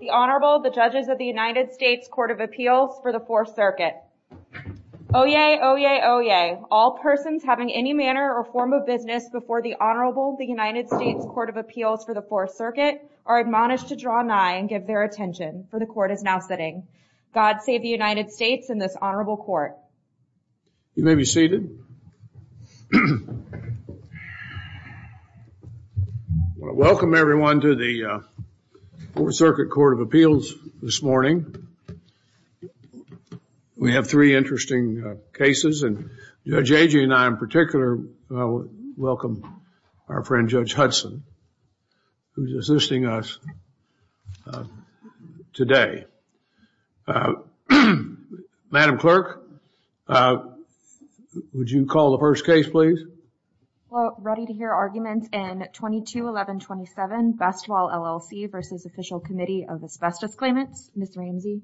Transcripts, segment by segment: The Honorable, the Judges of the United States Court of Appeals for the Fourth Circuit. Oyez! Oyez! Oyez! All persons having any manner or form of business before the Honorable, the United States Court of Appeals for the Fourth Circuit are admonished to draw nigh and give their attention, for the Court is now sitting. God save the United States and this Honorable Court. You may be seated. Welcome everyone to the Fourth Circuit Court of Appeals this morning. We have three interesting cases and Judge Agee and I in particular welcome our friend Judge Hudson who is assisting us today. Madam Clerk, would you call the first case please? Ready to hear arguments in 22-1127 Bestwall LLC v. Official Committee of Asbestos Claimants, Ms. Ramsey.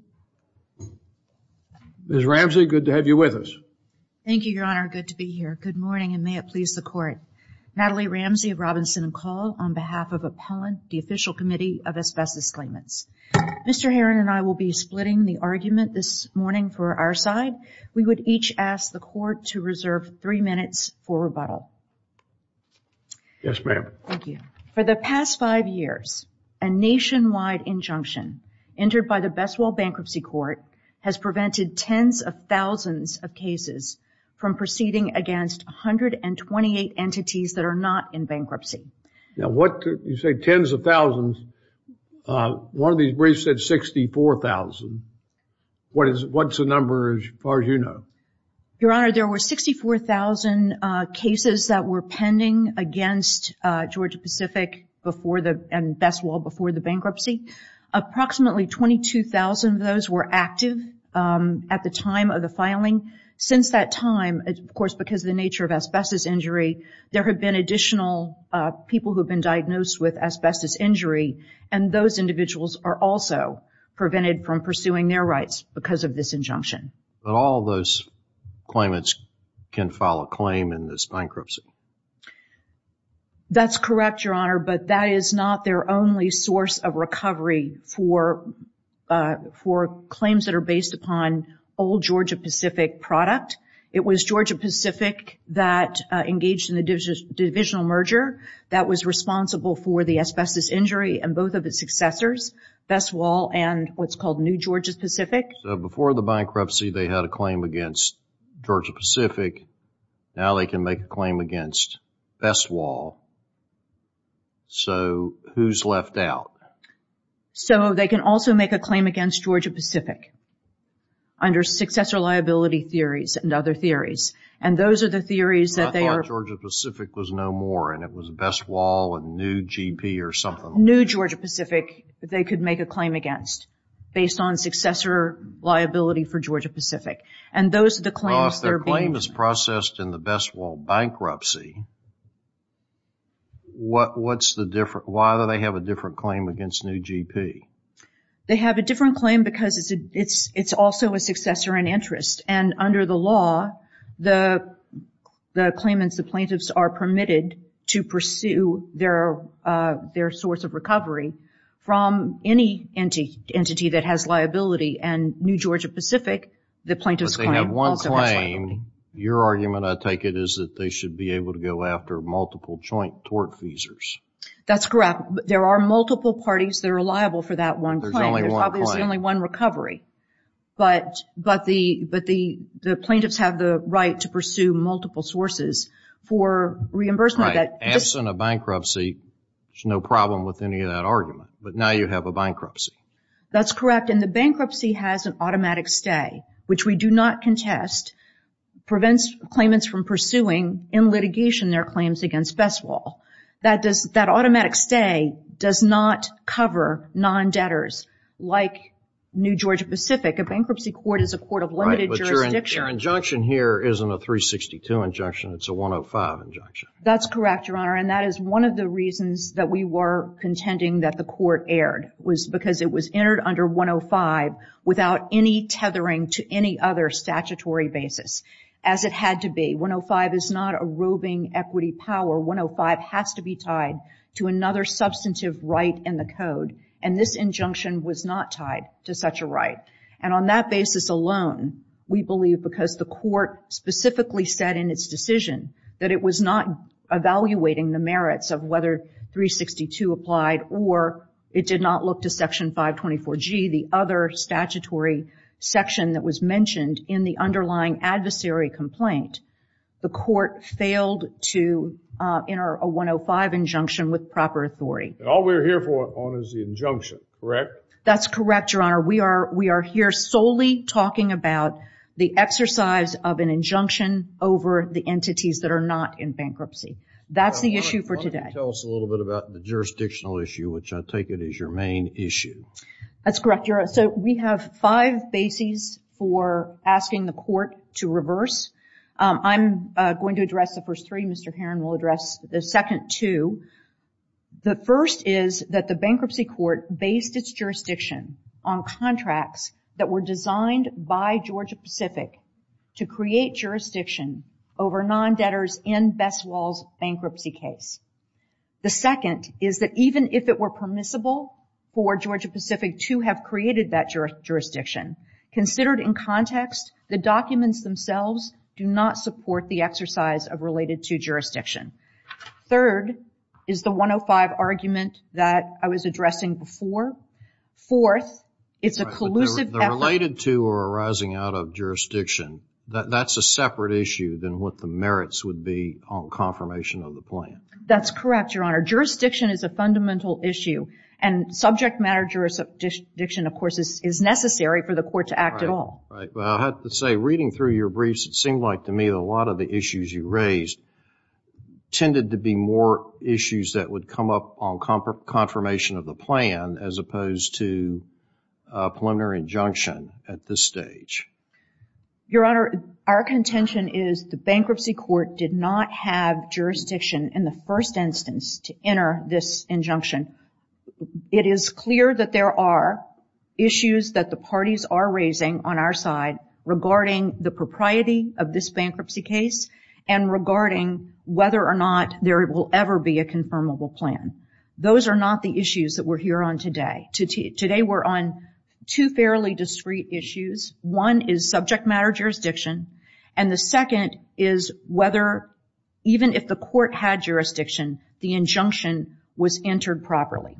Ms. Ramsey, good to have you with us. Thank you, Your Honor. Good morning and may it please the Court. Natalie Ramsey of Robinson & Call on behalf of Appellant, the Official Committee of Asbestos Claimants. Mr. Herron and I will be splitting the argument this morning for our side. We would each ask the Court to reserve three minutes for rebuttal. Yes, ma'am. Thank you. For the past five years, a nationwide injunction entered by the Bestwall Bankruptcy Court has prevented tens of thousands of cases from proceeding against 128 entities that are not in bankruptcy. Now what, you say tens of thousands. One of these briefs said 64,000. What is, what's the number as far as you know? Your Honor, there were 64,000 cases that were pending against Georgia Pacific and Bestwall before the bankruptcy. Approximately 22,000 of those were active at the time of the filing. Since that time, of course, because of the nature of asbestos injury, there have been additional people who have been diagnosed with asbestos injury and those individuals are also prevented from pursuing their rights because of this bankruptcy. That's correct, Your Honor, but that is not their only source of recovery for claims that are based upon old Georgia Pacific product. It was Georgia Pacific that engaged in the divisional merger that was responsible for the asbestos injury and both of its successors, Bestwall and what's called New Georgia Pacific. So before the bankruptcy, they had a claim against Georgia Pacific. Now they can make a claim against Bestwall. So who's left out? So they can also make a claim against Georgia Pacific under successor liability theories and other theories and those are the theories that they are. I thought Georgia Pacific was no more and it was Bestwall and New GP or something. New Georgia Pacific they could make a claim against based on successor liability for Georgia Pacific and those are the claims that are being processed. Well, if the claim is processed in the Bestwall bankruptcy, why do they have a different claim against New GP? They have a different claim because it's also a successor in interest and under the law, the claimants, the plaintiffs are permitted to pursue their source of recovery from any entity that has liability and New Georgia Pacific, the plaintiff's claim also has liability. But they have one claim. Your argument, I take it, is that they should be able to go after multiple joint tort feasors. That's correct. There are multiple parties that are liable for that one claim. There's only one claim. Right. Absent a bankruptcy, there's no problem with any of that argument. But now you have a bankruptcy. That's correct and the bankruptcy has an automatic stay, which we do not contest, prevents claimants from pursuing in litigation their claims against Bestwall. That automatic stay does not cover non-debtors like New Georgia Pacific. A bankruptcy court is a court of limited jurisdiction. Right, but your injunction here isn't a 362 injunction. It's a 105 injunction. That's correct, Your Honor, and that is one of the reasons that we were contending that the court erred was because it was entered under 105 without any tethering to any other statutory basis as it had to be. 105 is not a roving equity power. 105 has to be tied to another substantive right in the code and this injunction was not tied to such a right. And on that basis alone, we believe because the court specifically said in its decision that it was not evaluating the merits of whether 362 applied or it did not look to Section 524G, the other statutory section that was mentioned in the underlying adversary complaint, the court failed to enter a 105 injunction with proper authority. All we're here for is the injunction, correct? That's correct, Your Honor. We are here solely talking about the exercise of an injunction over the entities that are not in bankruptcy. That's the issue for today. Why don't you tell us a little bit about the jurisdictional issue, which I take it is your main issue. That's correct, Your Honor. So we have five bases for asking the court to reverse. I'm going to address the first three. Mr. Herron will address the second two. The first is that the bankruptcy court based its jurisdiction on contracts that were designed by Georgia-Pacific to create jurisdiction over non-debtors in Bessell's bankruptcy case. The second is that even if it were permissible for Georgia-Pacific to have created that jurisdiction, considered in context, the documents themselves do not support the exercise of related to jurisdiction. Third is the 105 argument that I was addressing before. Fourth, it's a collusive effort. The related to or arising out of jurisdiction, that's a separate issue than what the merits would be on confirmation of the plan. That's why jurisdiction, of course, is necessary for the court to act at all. I have to say, reading through your briefs, it seemed like to me a lot of the issues you raised tended to be more issues that would come up on confirmation of the plan as opposed to a preliminary injunction at this stage. Your Honor, our contention is the bankruptcy court did not have jurisdiction in the first instance to enter this injunction. It is clear that there are issues that the parties are raising on our side regarding the propriety of this bankruptcy case and regarding whether or not there will ever be a confirmable plan. Those are not the issues that we're here on today. Today, we're on two fairly discrete issues. One is subject matter jurisdiction. The second is whether even if the court had jurisdiction, the injunction was entered properly.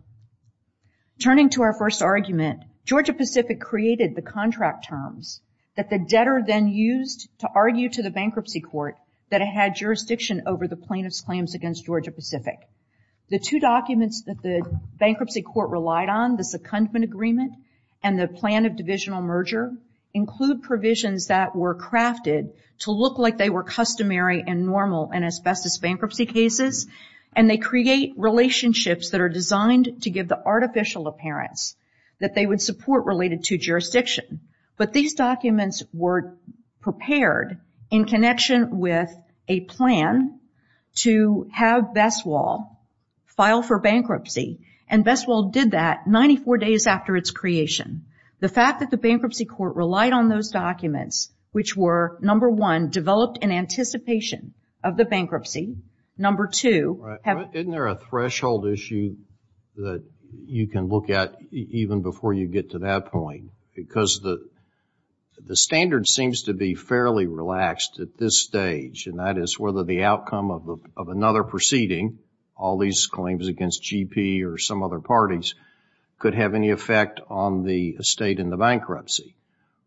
Turning to our first argument, Georgia Pacific created the contract terms that the debtor then used to argue to the bankruptcy court that it had jurisdiction over the plaintiff's claims against Georgia Pacific. The two documents that the bankruptcy court relied on, the secondment agreement and the plan of divisional merger, include provisions that were crafted to look like they were customary and normal in asbestos bankruptcy cases. They create relationships that are designed to give the artificial appearance that they would support related to jurisdiction. These documents were prepared in connection with a plan to have BestWall file for bankruptcy. BestWall did that 94 days after its creation. The fact that the bankruptcy court relied on those documents, which were, number one, developed in anticipation of the bankruptcy. Number two, have... Isn't there a threshold issue that you can look at even before you get to that point? Because the standard seems to be fairly relaxed at this stage, and that is whether the outcome of another proceeding, all these claims against GP or some other parties, could have any effect on the estate in the bankruptcy,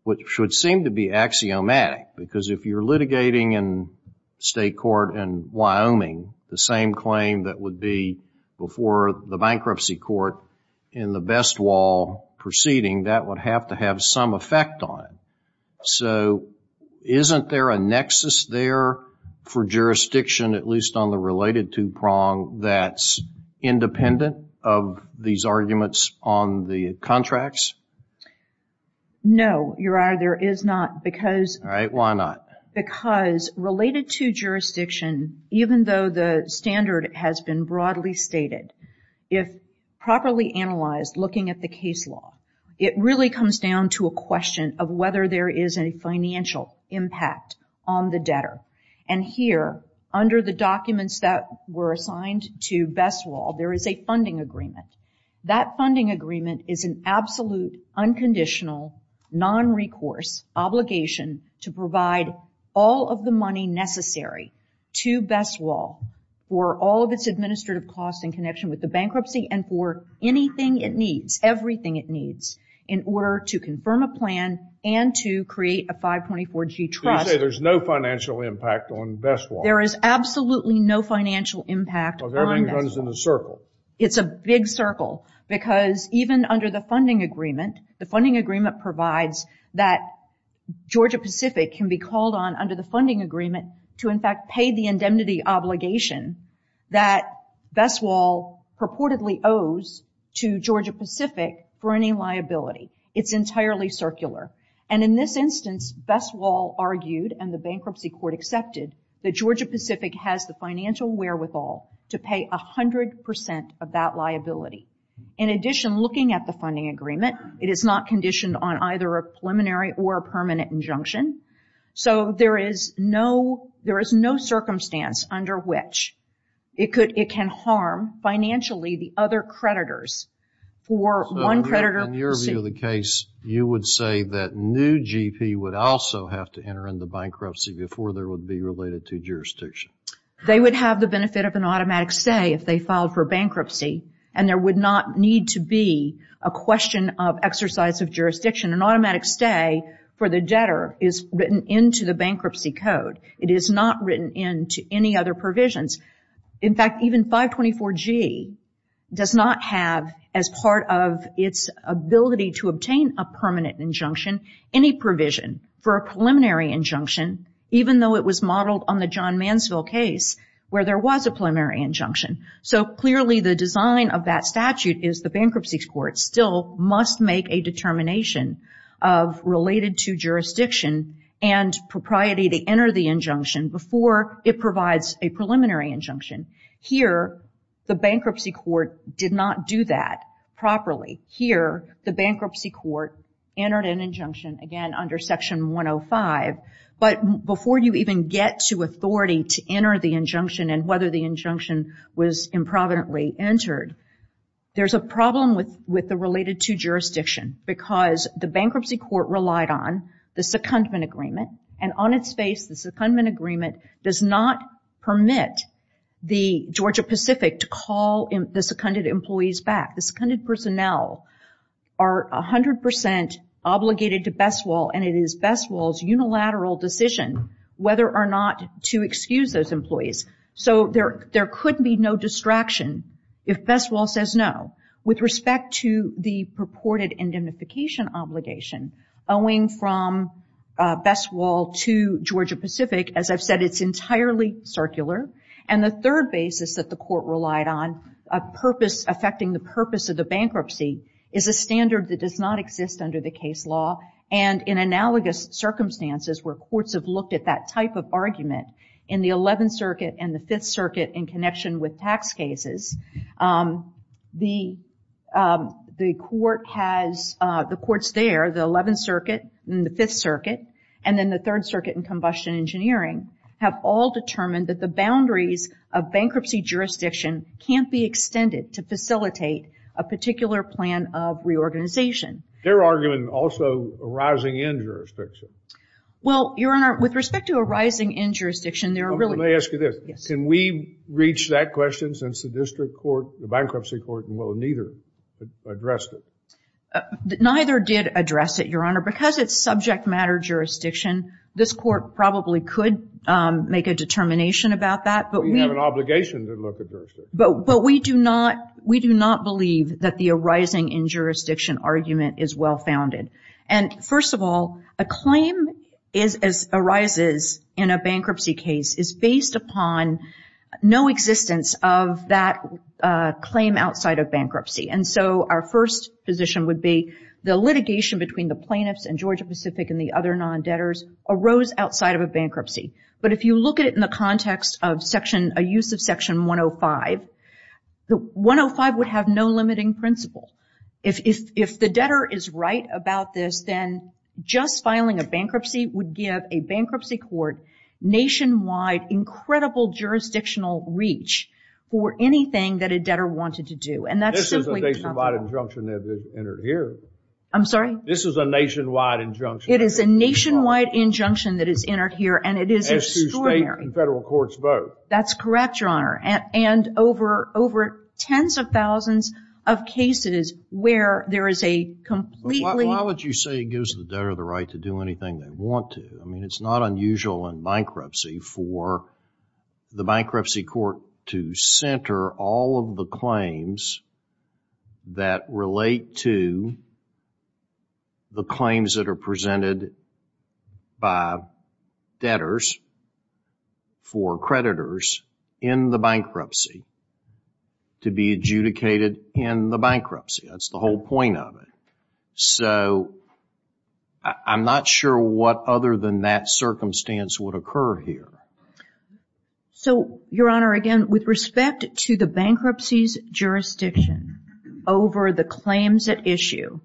which would seem to be axiomatic. Because if you're litigating in state court in Wyoming, the same claim that would be before the bankruptcy court in the BestWall proceeding, that would have to have some effect on it. So isn't there a nexus there for jurisdiction, at least on the related two-prong, that's independent of these arguments on the contracts? No, Your Honor, there is not, because... All right, why not? Because related to jurisdiction, even though the standard has been broadly stated, if properly analyzed looking at the case law, it really comes down to a question of whether there is a financial impact on the debtor. And here, under the documents that were assigned to me, there is a funding agreement. That funding agreement is an absolute, unconditional, non-recourse obligation to provide all of the money necessary to BestWall for all of its administrative costs in connection with the bankruptcy and for anything it needs, everything it needs, in order to confirm a plan and to create a 524G trust. So you say there's no financial impact on BestWall? There is absolutely no financial impact on BestWall. Well, then it runs in a circle. It's a big circle, because even under the funding agreement, the funding agreement provides that Georgia-Pacific can be called on under the funding agreement to, in fact, pay the indemnity obligation that BestWall purportedly owes to Georgia-Pacific for any liability. It's entirely circular. And in this instance, BestWall argued and the bankruptcy court accepted that Georgia-Pacific has the financial wherewithal to pay 100 percent of that liability. In addition, looking at the funding agreement, it is not conditioned on either a preliminary or a permanent injunction. So there is no, there is no circumstance under which it could, it can harm financially the other creditors for one creditor. So in your view of the case, you would say that new GP would also have to enter into a bankruptcy related to jurisdiction? They would have the benefit of an automatic stay if they filed for bankruptcy, and there would not need to be a question of exercise of jurisdiction. An automatic stay for the debtor is written into the bankruptcy code. It is not written into any other provisions. In fact, even 524G does not have, as part of its ability to obtain a permanent injunction, any provision for a preliminary injunction, even though it was modeled on the John Mansfield case where there was a preliminary injunction. So clearly the design of that statute is the bankruptcy court still must make a determination of related to jurisdiction and propriety to enter the injunction before it provides a preliminary injunction. Here, the bankruptcy court did not do that properly. Here, the bankruptcy court entered an injunction, again, under Section 105, but before you even get to authority to enter the injunction and whether the injunction was improvidently entered, there's a problem with the related to jurisdiction because the bankruptcy court relied on the secondment agreement, and on its face, the secondment agreement does not permit the Georgia Pacific to call the seconded employees back. The seconded personnel are 100 percent obligated to Best Wall, and it is Best Wall's unilateral decision whether or not to excuse those employees. So there could be no distraction if Best Wall says no. With respect to the purported indemnification obligation owing from Best Wall to Georgia Pacific, as I've said, it's entirely circular. The third basis that the court relied on affecting the purpose of the bankruptcy is a standard that does not exist under the case law, and in analogous circumstances where courts have looked at that type of argument in the 11th Circuit and the 5th Circuit in connection with tax cases, the courts there, the 11th Circuit and the 5th Circuit, and then the boundaries of bankruptcy jurisdiction can't be extended to facilitate a particular plan of reorganization. Their argument also arising in jurisdiction. Well, Your Honor, with respect to arising in jurisdiction, there are really... Let me ask you this. Can we reach that question since the district court, the bankruptcy court, well, neither addressed it? Neither did address it, Your Honor. Because it's subject matter jurisdiction, this court probably could make a determination about that, but we... We have an obligation to look at jurisdiction. But we do not believe that the arising in jurisdiction argument is well-founded. And first of all, a claim as arises in a bankruptcy case is based upon no existence of that claim outside of bankruptcy. And so our first position would be the litigation between the plaintiffs and Georgia-Pacific and the other non-debtors arose outside of a bankruptcy. But if you look at it in the context of a use of Section 105, the 105 would have no limiting principle. If the debtor is right about this, then just filing a bankruptcy would give a bankruptcy court nationwide incredible jurisdictional reach for anything that a debtor wanted to do. And that's simply... This is a nationwide injunction that is entered here. I'm sorry? This is a nationwide injunction that is entered here. It is a nationwide injunction that is entered here, and it is extraordinary. As to state and federal courts vote. That's correct, Your Honor. And over tens of thousands of cases where there is a completely... But why would you say it gives the debtor the right to do anything they want to? I mean, it's not unusual in bankruptcy for the bankruptcy court to center all of the claims that relate to the claims that are presented by debtors for creditors in the bankruptcy to be adjudicated in the bankruptcy. That's the whole point of it. So I'm not sure what other than that circumstance would occur here. So, Your Honor, again, with respect to the bankruptcy's jurisdiction over the claims at issue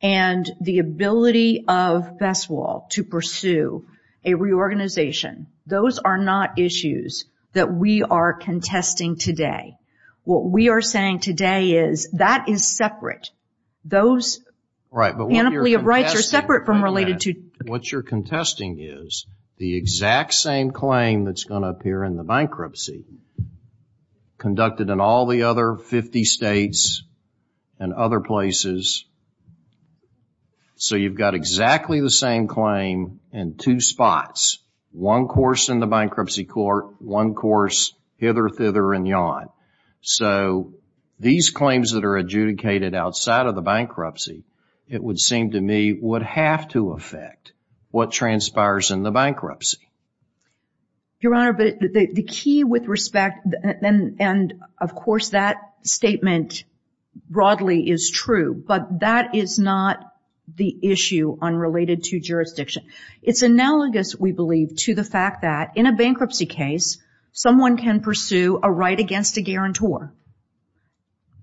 and the ability of FESWL to pursue a reorganization, those are not issues that we are contesting today. What we are saying today is that is separate. Those panoply of rights are separate from related to... The claim that's going to appear in the bankruptcy conducted in all the other 50 states and other places. So you've got exactly the same claim in two spots. One course in the bankruptcy court, one course hither, thither, and yon. So these claims that are adjudicated outside of the bankruptcy, it would seem to me, would have to affect what transpires in the bankruptcy. Your Honor, the key with respect, and of course that statement broadly is true, but that is not the issue on related to jurisdiction. It's analogous, we believe, to the fact that in a bankruptcy case, someone can pursue a right against a guarantor.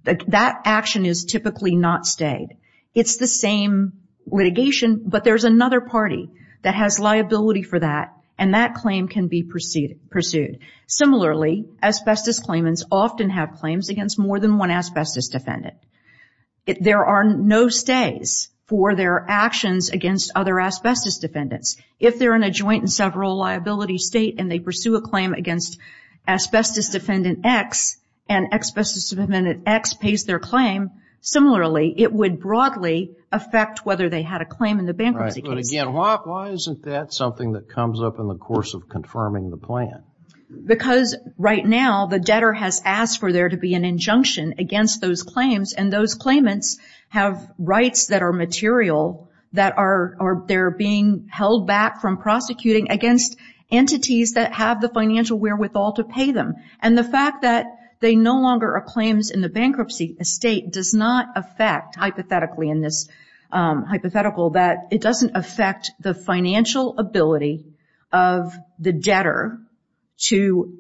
That action is typically not stayed. It's the same litigation, but there's another party that has liability for that, and that claim can be pursued. Similarly, asbestos claimants often have claims against more than one asbestos defendant. There are no stays for their actions against other asbestos defendants. If they're in a joint and several liability state and they pursue a claim against asbestos defendant X, and asbestos defendant X pays their claim, similarly, it would broadly affect whether they had a claim in the bankruptcy case. But again, why isn't that something that comes up in the course of confirming the plan? Because right now, the debtor has asked for there to be an injunction against those claims, and those claimants have rights that are material, that are being held back from prosecuting against entities that have the financial wherewithal to pay them. And the fact that they no longer are claims in the bankruptcy estate does not affect, hypothetically in this hypothetical, that it doesn't affect the financial ability of the debtor to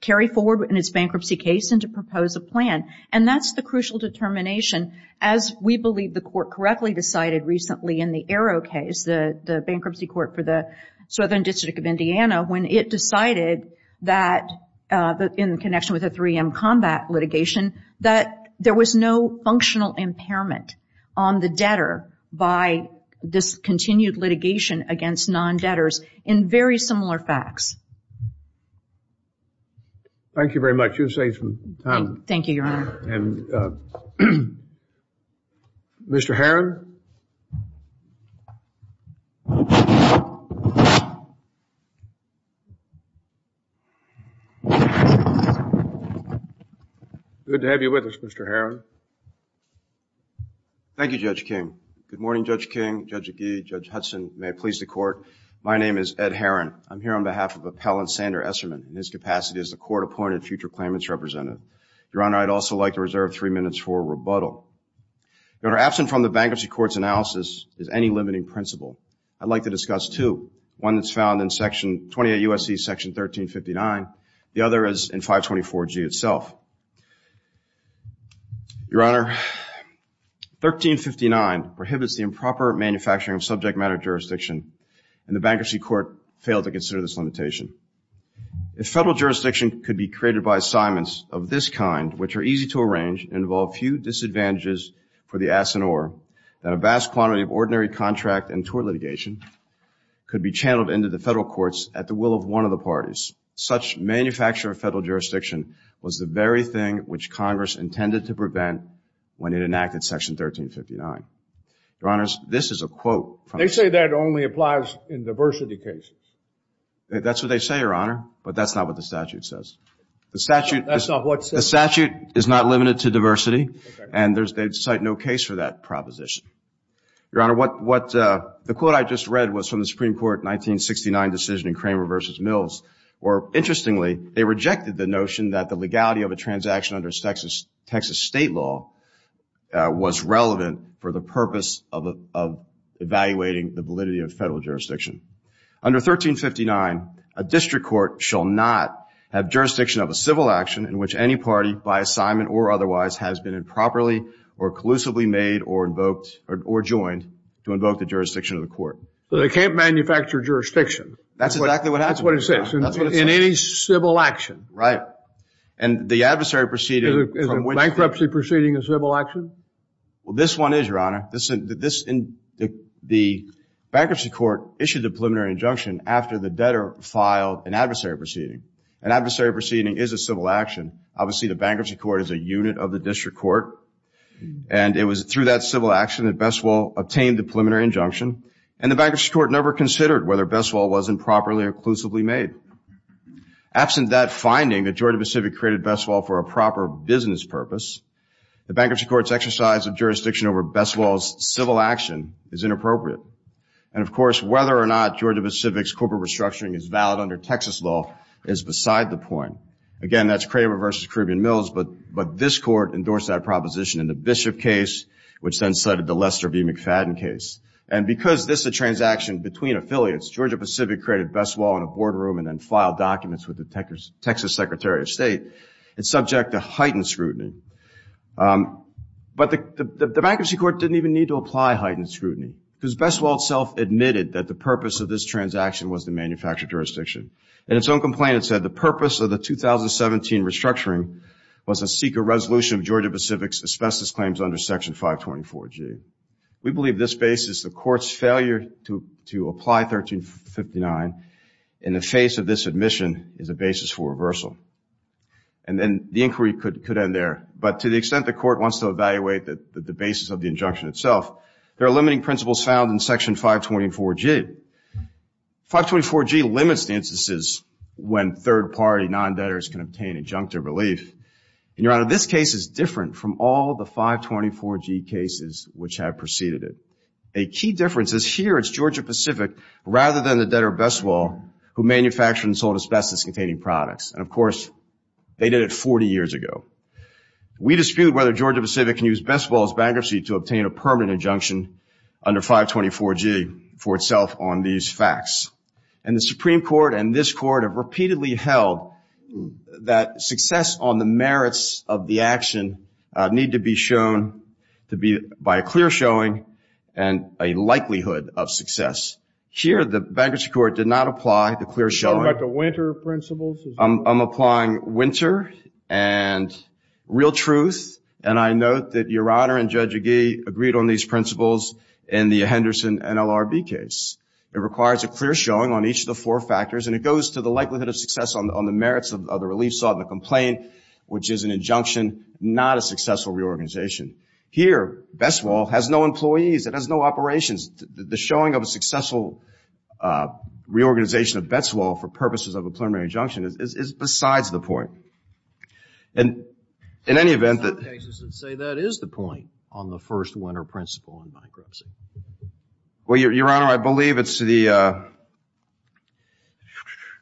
carry forward in its bankruptcy case and to propose a plan. And that's the crucial determination, as we believe the court correctly decided recently in the Arrow case, the bankruptcy court for the Southern District of Indiana, when it decided that, in connection with the 3M combat litigation, that there was no functional impairment on the debtor by this continued litigation against non-debtors in very similar facts. Thank you very much. You've saved some time. Thank you, Your Honor. Mr. Herron? Good to have you with us, Mr. Herron. Thank you, Judge King. Good morning, Judge King, Judge Agee, Judge Hudson. May it please the Court. My name is Ed Herron. I'm here on behalf of Appellant Sander Esserman. In his capacity as the Court-Appointed Future Claimant's Representative. Your Honor, I'd also like to reserve three minutes for rebuttal. Your Honor, absent from the bankruptcy court's analysis is any limiting principle. I'd like to discuss two. One that's found in Section 28 U.S.C. Section 1359. The other is in 524G itself. Your Honor, 1359 prohibits the improper manufacturing of subject matter jurisdiction, and the bankruptcy court failed to consider this limitation. If federal jurisdiction could be created by assignments of this kind, which are easy to arrange and involve few disadvantages for the ass and oar, then a vast quantity of ordinary contract and tort litigation could be channeled into the federal courts at the will of one of the parties. Such manufacture of federal jurisdiction was the very thing which Congress intended to prevent when it enacted Section 1359. Your Honor, this is a quote from They say that only applies in diversity cases. That's what they say, Your Honor, but that's not what the statute says. The statute is not limited to diversity, and they cite no case for that proposition. Your Honor, the quote I just read was from the Supreme Court 1969 decision in Cramer v. Mills, where, interestingly, they rejected the notion that the legality of a transaction under Texas state law was relevant for the purpose of evaluating the validity of federal jurisdiction. Under 1359, a district court shall not have jurisdiction of a civil action in which any party, by assignment or otherwise, has been improperly or collusively made or invoked or joined to invoke the jurisdiction of the court. So they can't manufacture jurisdiction. That's exactly what happens. That's what it says. In any civil action. Right. And the adversary proceeding from which Is a bankruptcy proceeding a civil action? Well, this one is, Your Honor. The bankruptcy court issued the preliminary injunction after the debtor filed an adversary proceeding. An adversary proceeding is a civil action. Obviously, the bankruptcy court is a unit of the district court, and it was through that civil action that Besswell obtained the preliminary injunction, and the bankruptcy court never considered whether Besswell wasn't properly or collusively made. Absent that finding, the majority of the civic created Besswell for a proper business purpose. The bankruptcy court's exercise of jurisdiction over Besswell's civil action is inappropriate. And of course, whether or not Georgia Pacific's corporate restructuring is valid under Texas law is beside the point. Again, that's Kramer versus Caribbean Mills, but this court endorsed that proposition in the Bishop case, which then slid into Lester B. McFadden case. And because this is a transaction between affiliates, Georgia Pacific created Besswell in a boardroom and then filed documents with the Texas Secretary of State. It's subject to heightened scrutiny. But the bankruptcy court didn't even need to apply heightened scrutiny, because Besswell itself admitted that the purpose of this transaction was to manufacture jurisdiction. In its own complaint, it said the purpose of the 2017 restructuring was to seek a resolution of Georgia Pacific's asbestos claims under Section 524G. We believe this basis, the court's failure to apply 1359 in the face of this admission, is a basis for reversal. And then the inquiry could end there. But to the extent the court wants to evaluate the basis of the injunction itself, there are limiting principles found in Section 524G. 524G limits the instances when third-party non-debtors can obtain injunctive relief. And, Your Honor, this case is different from all the 524G cases which have preceded it. A key difference is here it's Georgia Pacific rather than the debtor Besswell who manufactured and sold asbestos-containing products. And, of course, they did it 40 years ago. We dispute whether Georgia Pacific can use Besswell's bankruptcy to obtain a permanent injunction under 524G for itself on these facts. And the Supreme Court and this Court have repeatedly held that success on the merits of the action need to be shown to be by a clear showing and a likelihood of success. Here, the bankruptcy court did not apply the real truth. And I note that Your Honor and Judge Agee agreed on these principles in the Henderson NLRB case. It requires a clear showing on each of the four factors. And it goes to the likelihood of success on the merits of the relief sought and the complaint, which is an injunction, not a successful reorganization. Here, Besswell has no employees. It has no operations. The showing of a successful reorganization of Besswell for purposes of a preliminary injunction is besides the point. And in any event, that is the point on the first winner principle on bankruptcy. Well, Your Honor, I believe it's the,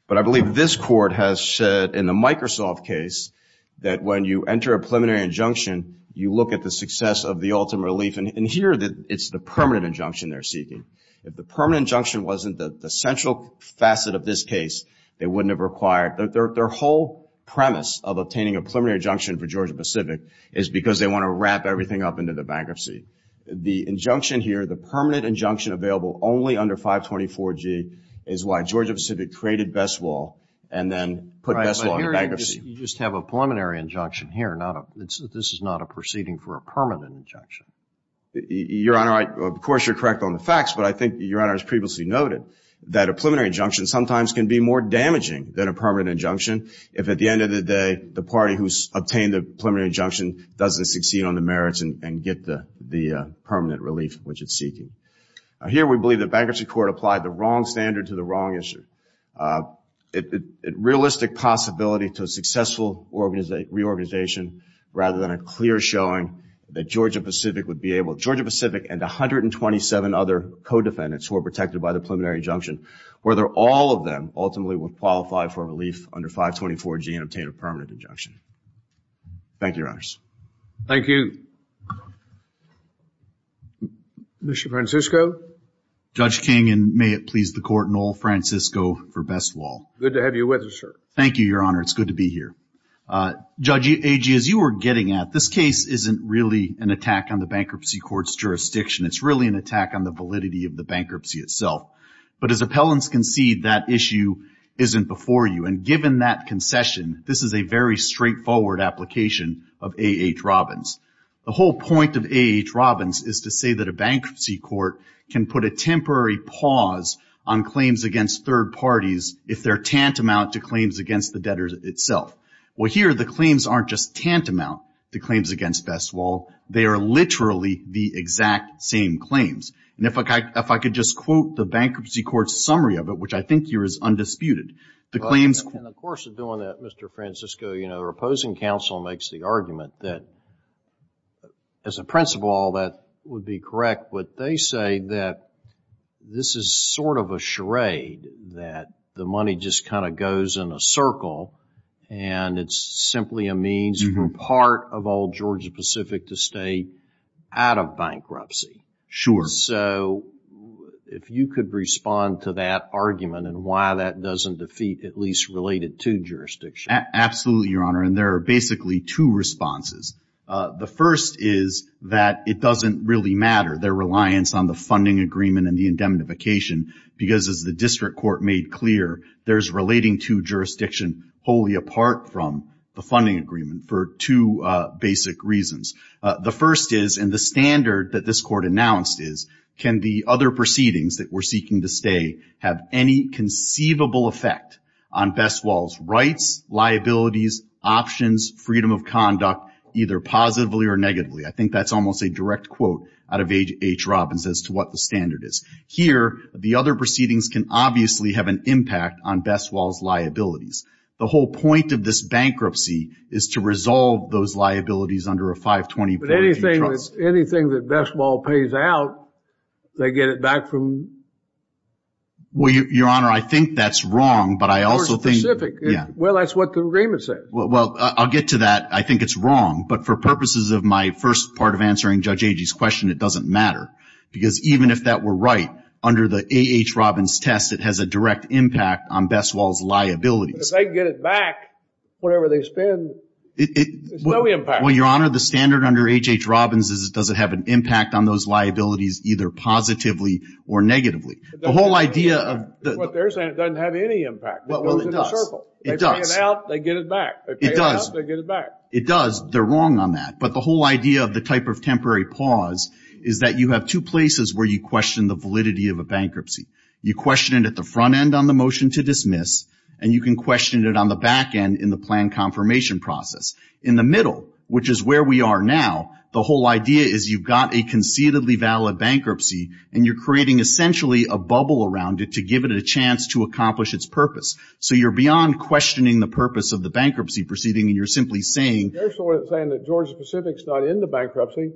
but I believe this court has said in the Microsoft case that when you enter a preliminary injunction, you look at the success of the ultimate relief. And here, it's the permanent injunction they're seeking. If the permanent injunction wasn't the central facet of this case, they wouldn't have required, their whole premise of obtaining a preliminary injunction for Georgia-Pacific is because they want to wrap everything up into the bankruptcy. The injunction here, the permanent injunction available only under 524G, is why Georgia-Pacific created Besswell and then put Besswell on the bankruptcy. Right, but here you just have a preliminary injunction here, not a, this is not a proceeding for a permanent injunction. Your Honor, of course, you're correct on the facts, but I think Your Honor has previously noted that a preliminary injunction sometimes can be more damaging than a permanent injunction if at the end of the day, the party who's obtained the preliminary injunction doesn't succeed on the merits and get the permanent relief which it's seeking. Here we believe the bankruptcy court applied the wrong standard to the wrong issue. A realistic possibility to a successful reorganization rather than a clear showing that Georgia-Pacific would be able, Georgia-Pacific and 127 other co-defendants who are protected by the preliminary injunction, whether all of them ultimately would qualify for relief under 524G and obtain a permanent injunction. Thank you, Your Honors. Thank you. Mr. Francisco. Judge King, and may it please the Court, Noel Francisco for Besswell. Good to have you with us, sir. Thank you, Your Honor. It's good to be here. Judge Agee, as you were getting at, this case isn't really an attack on the bankruptcy court's jurisdiction. It's really an attack on the validity of the bankruptcy itself. But as appellants concede, that issue isn't before you. And given that concession, this is a very straightforward application of A. H. Robbins. The whole point of A. H. Robbins is to say that a bankruptcy court can put a temporary pause on claims against third parties if they're tantamount to claims against the debtors itself. Well, here, the claims aren't just tantamount to claims against Besswell. They are literally the exact same claims. And if I could just quote the bankruptcy court's summary of it, which I think here is undisputed, the claims In the course of doing that, Mr. Francisco, you know, the opposing counsel makes the argument that as a principle, all that would be correct. But they say that this is sort of a charade that the money just kind of goes in a circle and it's simply a means for part of all Georgia Pacific to stay out of bankruptcy. Sure. So if you could respond to that argument and why that doesn't defeat at least related to jurisdiction. Absolutely, Your Honor. And there are basically two responses. The first is that it doesn't really matter, their reliance on the funding agreement and the indemnification, because as the district court made clear, there's relating to jurisdiction wholly apart from the funding agreement for two basic reasons. The first is, and the standard that this court announced is, can the other proceedings that we're seeking to stay have any conceivable effect on Besswell's rights, liabilities, options, freedom of conduct, either positively or negatively? I think that's almost a direct quote out of H. Robbins as to what the standard is. Here, the other proceedings can obviously have an impact on Besswell's liabilities. The whole point of this bankruptcy is to resolve those liabilities under a 520 guarantee trust. But anything that Besswell pays out, they get it back from... Well, Your Honor, I think that's wrong, but I also think... More specific. Yeah. Well, that's what the agreement says. Well, I'll get to that. I think it's wrong. But for purposes of my first part of answering Judge Agee's question, it doesn't matter. Because even if that were right, under the A.H. Robbins test, it has a direct impact on Besswell's liabilities. If they get it back, whatever they spend, there's no impact. Well, Your Honor, the standard under H.H. Robbins is it doesn't have an impact on those liabilities either positively or negatively. The whole idea of... What they're saying, it doesn't have any impact. It goes in a circle. Well, it does. If they pay it out, they get it back. If they pay it up, they get it back. It does. They're wrong on that. But the whole idea of the type of temporary pause is that you have two places where you question the validity of a bankruptcy. You question it at the front end on the motion to dismiss, and you can question it on the back end in the plan confirmation process. In the middle, which is where we are now, the whole idea is you've got a conceitedly valid bankruptcy, and you're creating essentially a bubble around it to give it a chance to accomplish its purpose. So you're beyond questioning the purpose of the bankruptcy proceeding, and you're simply saying... They're sort of saying that Georgia Pacific's not into bankruptcy,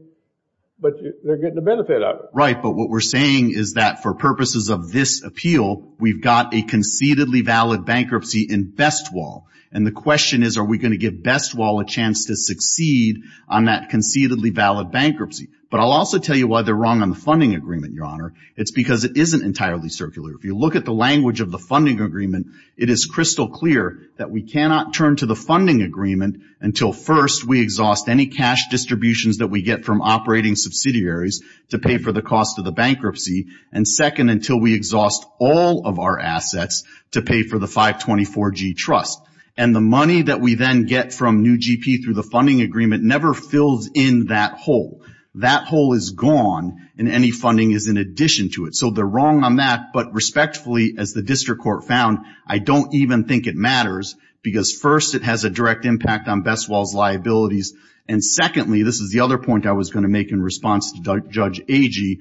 but they're getting a benefit out of it. Right. But what we're saying is that for purposes of this appeal, we've got a conceitedly valid bankruptcy in best wall. And the question is, are we going to give best wall a chance to succeed on that conceitedly valid bankruptcy? But I'll also tell you why they're wrong on the funding agreement, Your Honor. It's because it isn't entirely circular. If you look at the language of the funding agreement, it is crystal clear that we cannot turn to the funding agreement until, first, we exhaust any cash distributions that we get from operating subsidiaries to pay for the cost of the bankruptcy, and second, until we exhaust all of our assets to pay for the 524G Trust. And the money that we then get from New GP through the funding agreement never fills in that hole. That hole is gone, and any funding is in addition to it. So they're wrong on that, but respectfully, as the district court found, I don't even think it matters because, first, it has a direct impact on best wall's liabilities, and secondly, this is the other point I was going to make in response to Judge Agee,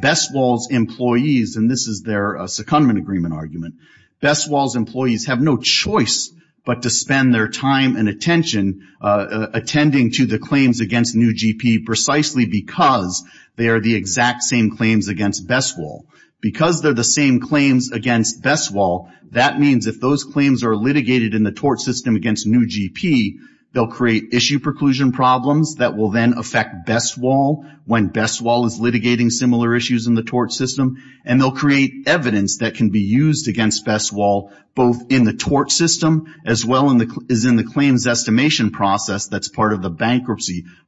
best wall's employees, and this is their secondment agreement argument, best wall's employees have no choice but to spend their time and attention attending to the claims against New GP precisely because they are the exact same claims against best wall. Because they're the same claims against best wall, that means if those claims are litigated in the tort system against New GP, they'll create issue preclusion problems that will then affect best wall when best wall is litigating similar issues in the tort system, and they'll create evidence that can be used against best wall both in the tort system as well as in the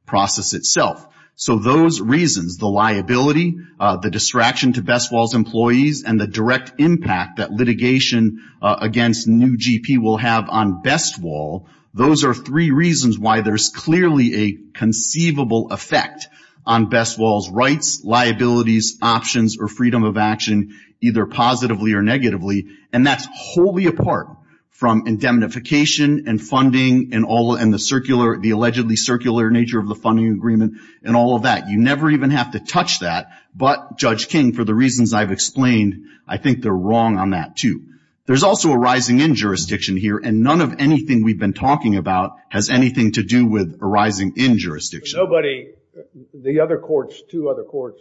process itself. So those reasons, the liability, the distraction to best wall's employees, and the direct impact that litigation against New GP will have on best wall, those are three reasons why there's clearly a conceivable effect on best wall's rights, liabilities, options, or freedom of action, either positively or negatively, and that's wholly apart from indemnification and funding and all, and the circular, the allegedly circular nature of the funding agreement and all of that. You never even have to touch that, but Judge King, for the reasons I've explained, I think they're wrong on that too. There's also a rising-in jurisdiction here, and none of anything we've been talking about has anything to do with a rising-in jurisdiction. Nobody, the other courts, two other courts,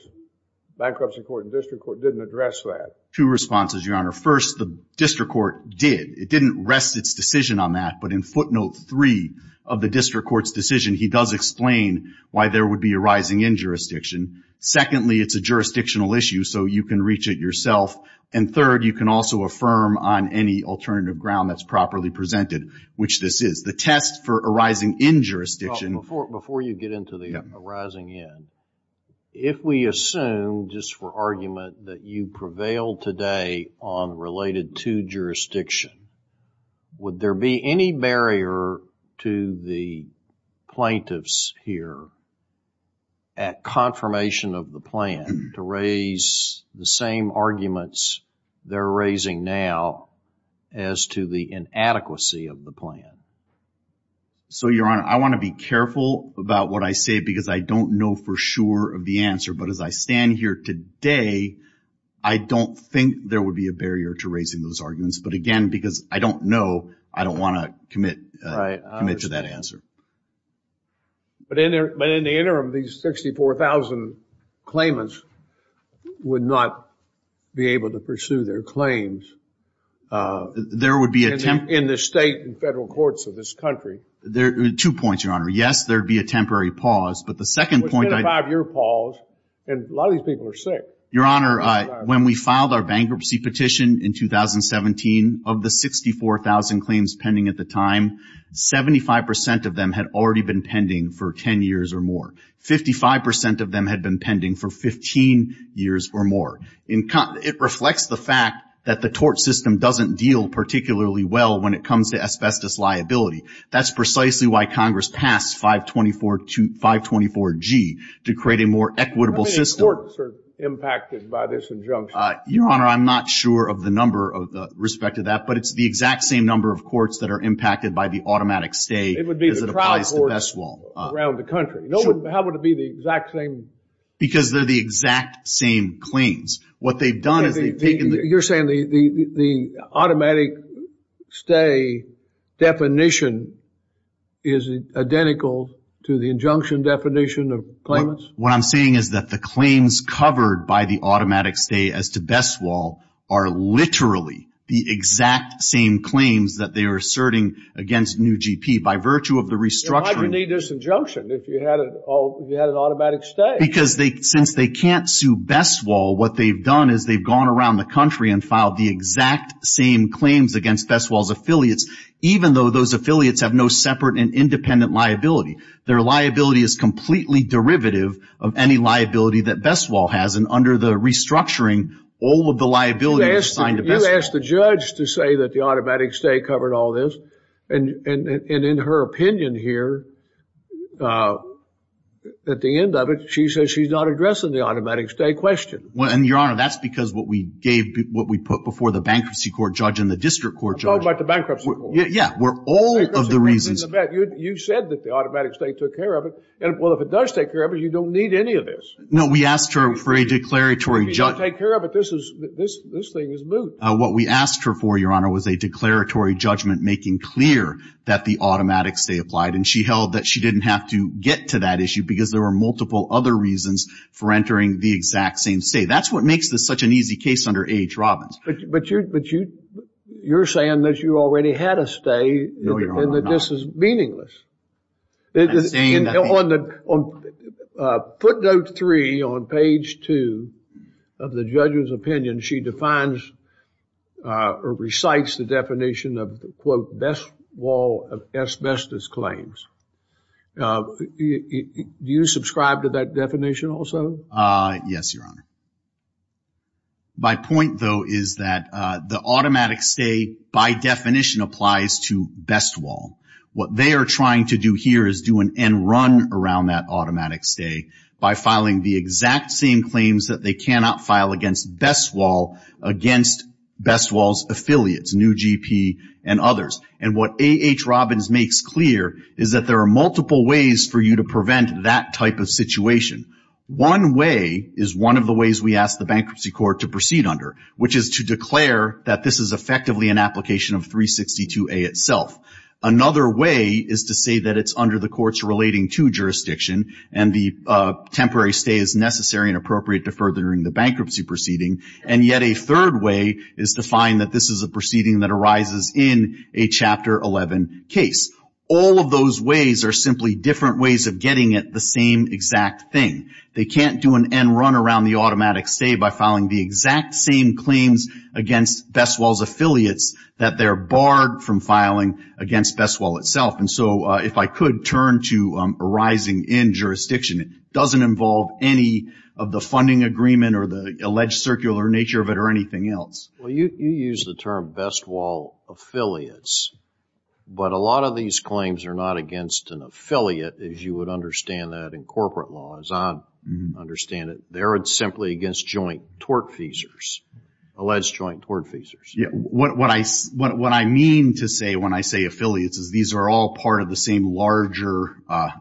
bankruptcy court and district court, didn't address that. Two responses, Your Honor. First, the district court did. It didn't rest its decision on that, but in footnote three of the district court's decision, he does explain why there would be a rising-in jurisdiction. Secondly, it's a jurisdictional issue, so you can reach it yourself. And third, you can also affirm on any alternative ground that's properly presented, which this is. The test for a rising-in jurisdiction... Well, before you get into the rising-in, if we assume, just for argument, that you prevail today on related to jurisdiction, would there be any barrier to the plaintiffs here at confirmation of the plan to raise the same arguments they're raising now as to the inadequacy of the plan? So Your Honor, I want to be careful about what I say because I don't know for sure of the answer, but as I stand here today, I don't think there would be a barrier to raising those arguments. But again, because I don't know, I don't want to commit to that answer. But in the interim, these 64,000 claimants would not be able to pursue their claims in the state and federal courts of this country. Two points, Your Honor. Yes, there'd be a temporary pause, but the second point... And a lot of these people are sick. Your Honor, when we filed our bankruptcy petition in 2017, of the 64,000 claims pending at the time, 75% of them had already been pending for 10 years or more. 55% of them had been pending for 15 years or more. It reflects the fact that the tort system doesn't deal particularly well when it comes to asbestos liability. That's precisely why Congress passed 524G, to create a more equitable system. How many courts are impacted by this injunction? Your Honor, I'm not sure of the number with respect to that, but it's the exact same number of courts that are impacted by the automatic stay as it applies to best law. It would be the trial courts around the country. How would it be the exact same? Because they're the exact same claims. What they've done is they've taken the... The injunction definition of claimants? What I'm saying is that the claims covered by the automatic stay as to best law are literally the exact same claims that they are asserting against new GP. By virtue of the restructuring... Then why do you need this injunction if you had an automatic stay? Because since they can't sue best law, what they've done is they've gone around the country and filed the exact same claims against best law's affiliates, even though those affiliates have no separate and independent liability. Their liability is completely derivative of any liability that best law has, and under the restructuring, all of the liability assigned... You asked the judge to say that the automatic stay covered all this, and in her opinion here, at the end of it, she says she's not addressing the automatic stay question. And Your Honor, that's because what we gave, what we put before the bankruptcy court judge and the district court judge... I'm talking about the bankruptcy court. Yeah, where all of the reasons... You said that the automatic stay took care of it, and well, if it does take care of it, you don't need any of this. No, we asked her for a declaratory... If you don't take care of it, this thing is moot. What we asked her for, Your Honor, was a declaratory judgment making clear that the automatic stay applied, and she held that she didn't have to get to that issue because there were multiple other reasons for entering the exact same stay. That's what makes this such an easy case under H. Robbins. But you're saying that you already had a stay and that this is meaningless. Footnote three on page two of the judge's opinion, she defines or recites the definition of the, quote, best wall of asbestos claims. Do you subscribe to that definition also? Yes, Your Honor. My point, though, is that the automatic stay, by definition, applies to best wall. What they are trying to do here is do an end run around that automatic stay by filing the exact same claims that they cannot file against best wall against best wall's affiliates, New GP and others. And what A.H. Robbins makes clear is that there are multiple ways for you to prevent that type of situation. One way is one of the ways we ask the bankruptcy court to proceed under, which is to declare that this is effectively an application of 362A itself. Another way is to say that it's under the court's relating to jurisdiction and the temporary stay is necessary and appropriate to furthering the bankruptcy proceeding. And yet a third way is to find that this is a proceeding that arises in a Chapter 11 case. All of those ways are simply different ways of getting at the same exact thing. They can't do an end run around the automatic stay by filing the exact same claims against best wall's affiliates that they're barred from filing against best wall itself. And so if I could turn to arising in jurisdiction, it doesn't involve any of the funding agreement or the alleged circular nature of it or anything else. Well, you use the term best wall affiliates, but a lot of these claims are not against an affiliate, as you would understand that in corporate law, as I understand it. They're simply against joint tortfeasors, alleged joint tortfeasors. Yeah, what I mean to say when I say affiliates is these are all part of the same larger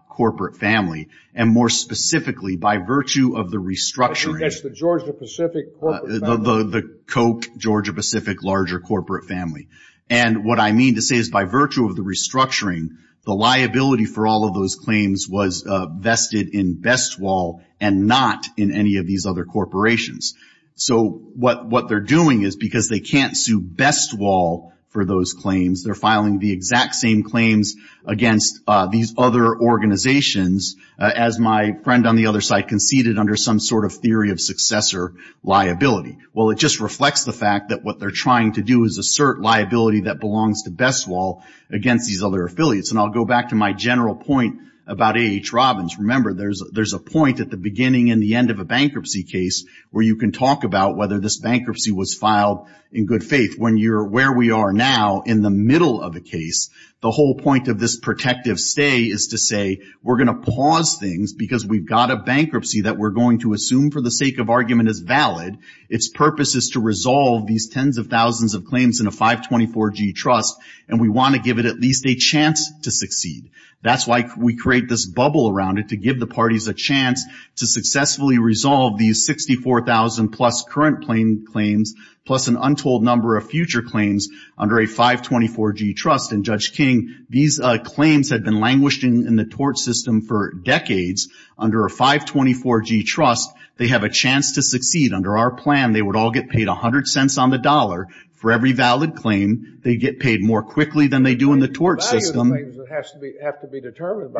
corporate family. And more specifically, by virtue of the restructuring. The Georgia-Pacific corporate family. The Koch Georgia-Pacific larger corporate family. And what I mean to say is by virtue of the restructuring, the liability for all of those claims was vested in best wall and not in any of these other corporations. So what they're doing is because they can't sue best wall for those claims, they're filing the exact same claims against these other organizations, as my friend on the other side conceded under some sort of theory of successor liability. Well, it just reflects the fact that what they're trying to do is assert liability that belongs to best wall against these other affiliates. And I'll go back to my general point about A.H. Robbins. Remember, there's a point at the beginning and the end of a bankruptcy case where you can talk about whether this bankruptcy was filed in good faith. When you're where we are now in the middle of a case, the whole point of this protective stay is to say we're going to pause things because we've got a bankruptcy that we're going to assume for the sake of argument is valid. Its purpose is to resolve these tens of thousands of claims in a 524G trust, and we want to give it at least a chance to succeed. That's why we create this bubble around it, to give the parties a chance to successfully resolve these 64,000 plus current claims, plus an untold number of future claims under a 524G trust. And, Judge King, these claims have been languishing in the tort system for decades. Under a 524G trust, they have a chance to succeed. Under our plan, they would all get paid 100 cents on the dollar for every valid claim. They get paid more quickly than they do in the tort system. But the value of the claim has to be determined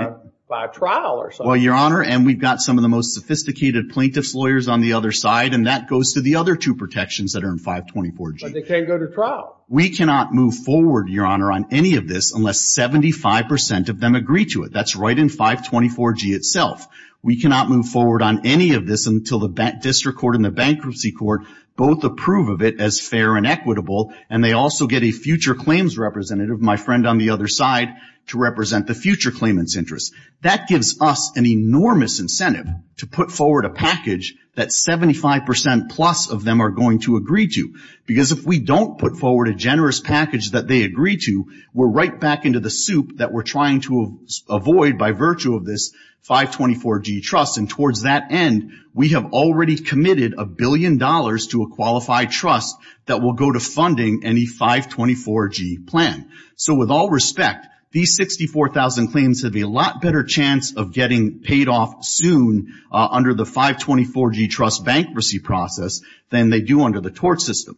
by a trial or something. Well, Your Honor, and we've got some of the most sophisticated plaintiff's lawyers on the other side, and that goes to the other two protections that are in 524G. But they can't go to trial. We cannot move forward, Your Honor, on any of this unless 75% of them agree to it. That's right in 524G itself. We cannot move forward on any of this until the District Court and the Bankruptcy Court both approve of it as fair and equitable, and they also get a future claims representative, my friend on the other side, to represent the future claimants' interests. That gives us an enormous incentive to put forward a package that 75% plus of them are going to agree to. Because if we don't put forward a generous package that they agree to, we're right back into the soup that we're trying to avoid by virtue of this 524G trust. And towards that end, we have already committed a billion dollars to a qualified trust that will go to funding any 524G plan. So, with all respect, these 64,000 claims have a lot better chance of getting paid off soon under the 524G trust bankruptcy process than they do under the tort system.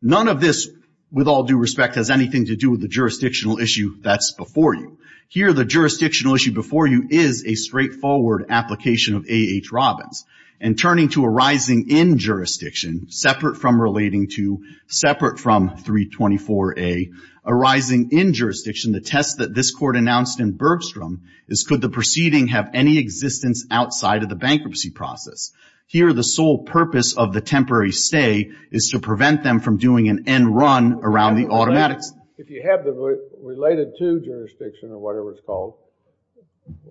None of this, with all due respect, has anything to do with the jurisdictional issue that's before you. Here the jurisdictional issue before you is a straightforward application of A.H. Robbins. And turning to arising in jurisdiction, separate from relating to, separate from 324A, arising in jurisdiction, the test that this Court announced in Bergstrom is could the proceeding have any existence outside of the bankruptcy process. Here the sole purpose of the temporary stay is to prevent them from doing an end run around the automatics. If you have the related to jurisdiction or whatever it's called,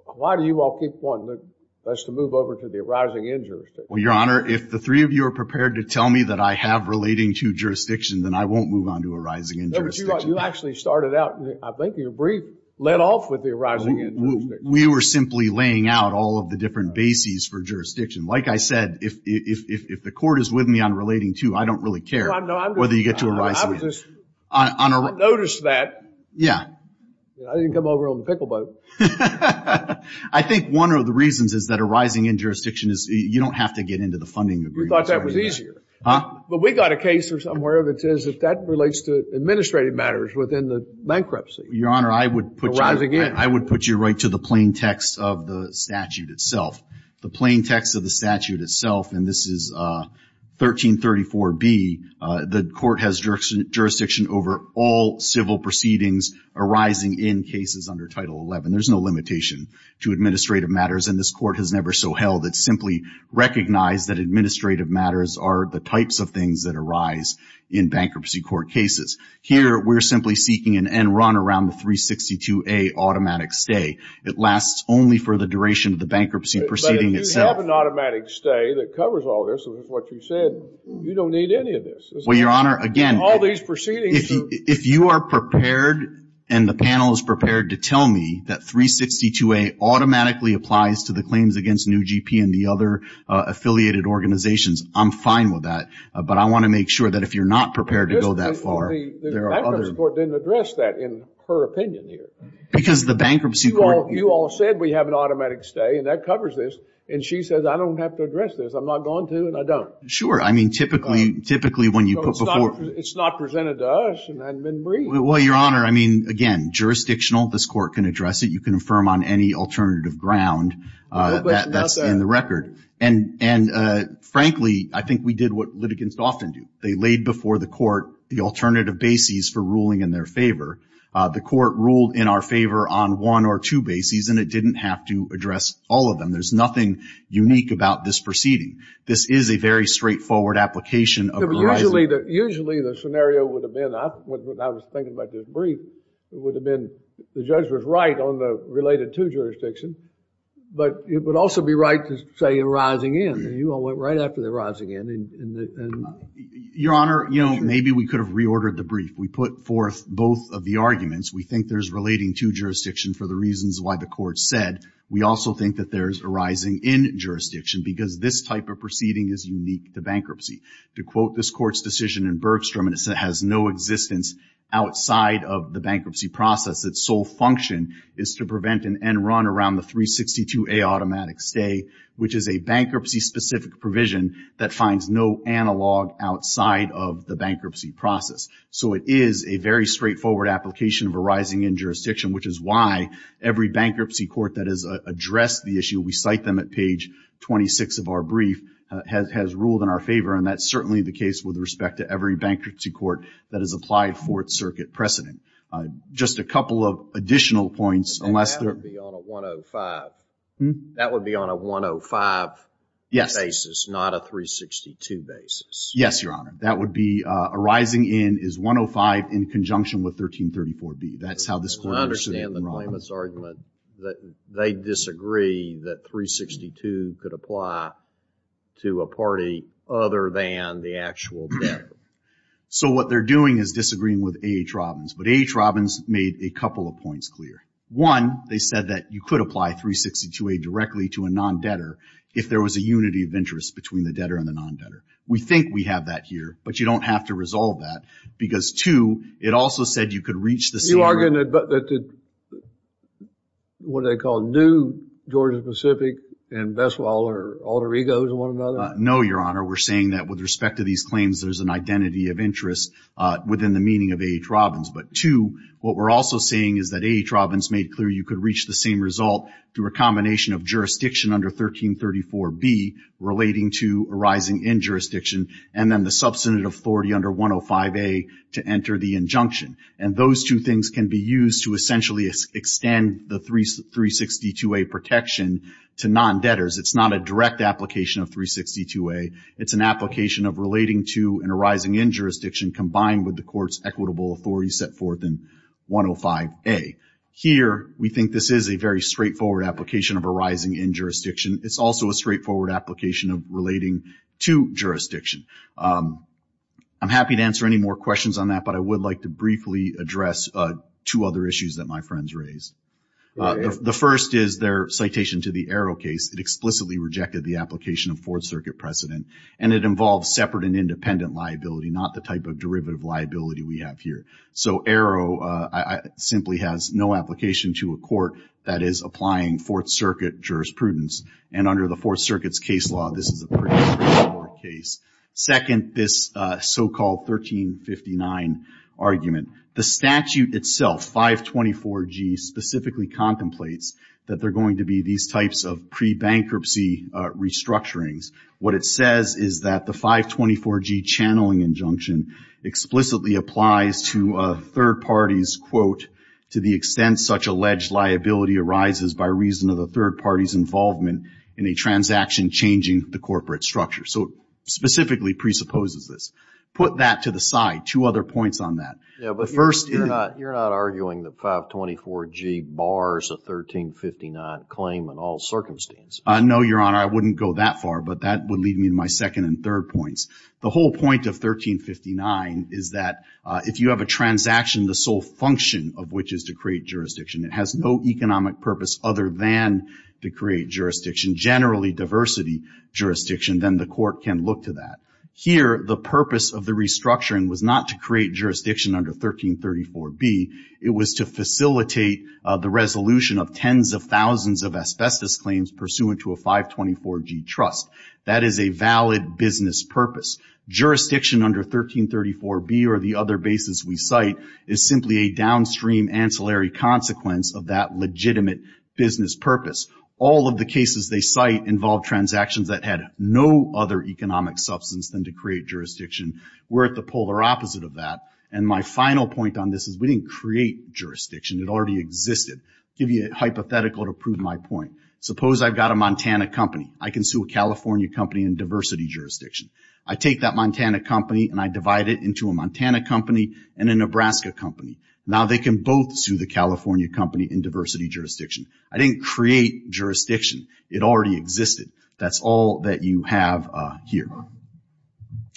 why do you all keep pointing that it's to move over to the arising in jurisdiction? Well, Your Honor, if the three of you are prepared to tell me that I have relating to jurisdiction, then I won't move on to arising in jurisdiction. No, but you actually started out, I think your brief led off with the arising in jurisdiction. We were simply laying out all of the different bases for jurisdiction. Like I said, if the Court is with me on relating to, I don't really care whether you get to arising in. I noticed that. Yeah. I didn't come over on the pickle boat. I think one of the reasons is that arising in jurisdiction is, you don't have to get into the funding agreement. We thought that was easier. Huh? But we got a case or somewhere that says that that relates to administrative matters within the bankruptcy. Your Honor, I would put you right forward. To the plain text of the statute itself, the plain text of the statute itself, and this is 1334B, the Court has jurisdiction over all civil proceedings arising in cases under Title 11. There's no limitation to administrative matters, and this Court has never so held. It simply recognized that administrative matters are the types of things that arise in bankruptcy court cases. Here, we're simply seeking an end run around the 362A automatic stay. It lasts only for the duration of the bankruptcy proceeding itself. But if you have an automatic stay that covers all this, which is what you said, you don't need any of this. Well, Your Honor, again, All these proceedings are If you are prepared and the panel is prepared to tell me that 362A automatically applies to the claims against New GP and the other affiliated organizations, I'm fine with that. But I want to make sure that if you're not prepared to go that far The bankruptcy court didn't address that in her opinion here. Because the bankruptcy court You all said we have an automatic stay, and that covers this, and she says, I don't have to address this. I'm not going to, and I don't. Sure. I mean, typically, when you put before It's not presented to us, and I've been briefed. Well, Your Honor, I mean, again, jurisdictional. This Court can address it. You can affirm on any alternative ground that's in the record. And frankly, I think we did what litigants often do. They laid before the Court the alternative bases for ruling in their favor. The Court ruled in our favor on one or two bases, and it didn't have to address all of them. There's nothing unique about this proceeding. This is a very straightforward application of a rising Usually, the scenario would have been, I was thinking about this brief, it would have been the judge was right on the related to jurisdiction, but it would also be right to say a rising in. You all went right after the rising in. Your Honor, you know, maybe we could have reordered the brief. We put forth both of the arguments. We think there's relating to jurisdiction for the reasons why the Court said. We also think that there's a rising in jurisdiction because this type of proceeding is unique to bankruptcy. To quote this Court's decision in Bergstrom, and it has no existence outside of the bankruptcy process, its sole function is to prevent an end run around the 362A automatic stay, which is a bankruptcy-specific provision that finds no analog outside of the bankruptcy process. So it is a very straightforward application of a rising in jurisdiction, which is why every bankruptcy court that has addressed the issue, we cite them at page 26 of our brief, has ruled in our favor, and that's certainly the case with respect to every bankruptcy court that has applied Fourth Circuit precedent. Just a couple of additional points, unless there That would be on a 105. Yes. Basis, not a 362 basis. Yes, Your Honor. That would be a rising in is 105 in conjunction with 1334B. That's how this Court understood it in Robbins. I understand the claimant's argument that they disagree that 362 could apply to a party other than the actual debtor. So what they're doing is disagreeing with A.H. Robbins, but A.H. Robbins made a couple of points clear. One, they said that you could apply 362A directly to a non-debtor if there was a unity of interest between the debtor and the non-debtor. We think we have that here, but you don't have to resolve that because, two, it also said you could reach the same You're arguing that the, what do they call new Georgia-Pacific and best of all, are alter egos of one another? No, Your Honor. We're saying that with respect to these claims, there's an identity of interest within the meaning of A.H. Robbins. But two, what we're also saying is that A.H. Robbins made clear you could reach the same result through a combination of jurisdiction under 1334B relating to arising in jurisdiction and then the substantive authority under 105A to enter the injunction. And those two things can be used to essentially extend the 362A protection to non-debtors. It's not a direct application of 362A. It's an application of relating to and arising in jurisdiction combined with the Court's equitable authority set forth in 105A. Here we think this is a very straightforward application of arising in jurisdiction. It's also a straightforward application of relating to jurisdiction. I'm happy to answer any more questions on that, but I would like to briefly address two other issues that my friends raised. The first is their citation to the Arrow case that explicitly rejected the application of Fourth Circuit precedent and it involves separate and independent liability, not the type of liability that we have here. So Arrow simply has no application to a court that is applying Fourth Circuit jurisprudence. And under the Fourth Circuit's case law, this is a pretty straightforward case. Second, this so-called 1359 argument. The statute itself, 524G, specifically contemplates that there are going to be these types of pre-bankruptcy restructurings. What it says is that the 524G channeling injunction explicitly applies to a third party's quote, to the extent such alleged liability arises by reason of the third party's involvement in a transaction changing the corporate structure. So it specifically presupposes this. Put that to the side. Two other points on that. Yeah, but first... You're not arguing that 524G bars a 1359 claim in all circumstances? No, Your Honor. I wouldn't go that far, but that would lead me to my second and third points. The whole point of 1359 is that if you have a transaction, the sole function of which is to create jurisdiction, it has no economic purpose other than to create jurisdiction, generally diversity jurisdiction, then the court can look to that. Here the purpose of the restructuring was not to create jurisdiction under 1334B. It was to facilitate the resolution of tens of thousands of asbestos claims pursuant to a 524G trust. That is a valid business purpose. Jurisdiction under 1334B or the other basis we cite is simply a downstream ancillary consequence of that legitimate business purpose. All of the cases they cite involve transactions that had no other economic substance than to create jurisdiction. We're at the polar opposite of that. And my final point on this is we didn't create jurisdiction. It already existed. I'll give you a hypothetical to prove my point. Suppose I've got a Montana company. I can sue a California company in diversity jurisdiction. I take that Montana company and I divide it into a Montana company and a Nebraska company. Now they can both sue the California company in diversity jurisdiction. I didn't create jurisdiction. It already existed. That's all that you have here.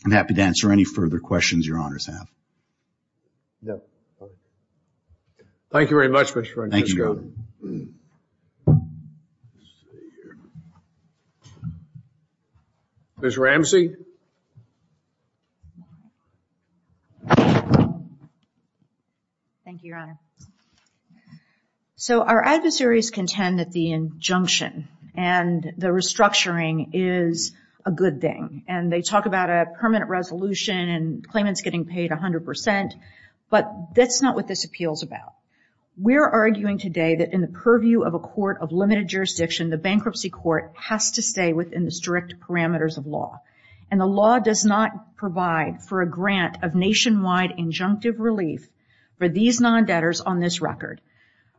I'm happy to answer any further questions your honors have. No. Thank you very much, Mr. Registrar. Thank you. Ms. Ramsey. Thank you, your honor. So our adversaries contend that the injunction and the restructuring is a good thing. And they talk about a permanent resolution and claimants getting paid 100%. But that's not what this appeals about. We're arguing today that in the purview of a court of limited jurisdiction, the bankruptcy court has to stay within the strict parameters of law. And the law does not provide for a grant of nationwide injunctive relief for these non-debtors on this record.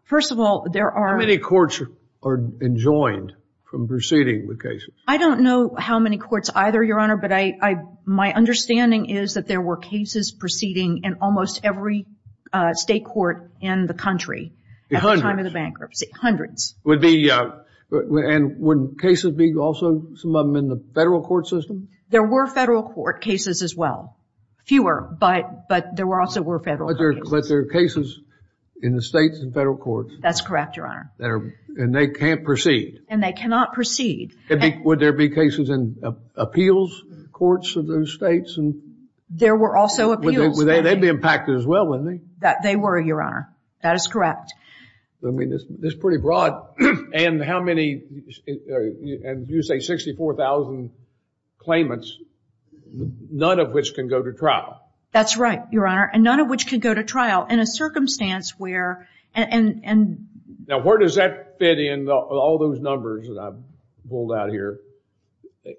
First of all, there are- How many courts are enjoined from proceeding with cases? I don't know how many courts either, your honor. But my understanding is that there were cases proceeding in almost every state court in the country at the time of the bankruptcy. Hundreds. Hundreds. And would cases be also some of them in the federal court system? There were federal court cases as well. Fewer, but there also were federal court cases. But there are cases in the states and federal courts. That's correct, your honor. And they can't proceed. And they cannot proceed. Would there be cases in appeals courts of those states? There were also appeals. They'd be impacted as well, wouldn't they? They were, your honor. That is correct. I mean, this is pretty broad. And how many, and you say 64,000 claimants, none of which can go to trial. That's right, your honor. And none of which can go to trial in a circumstance where- Now, where does that fit in all those numbers that I've pulled out here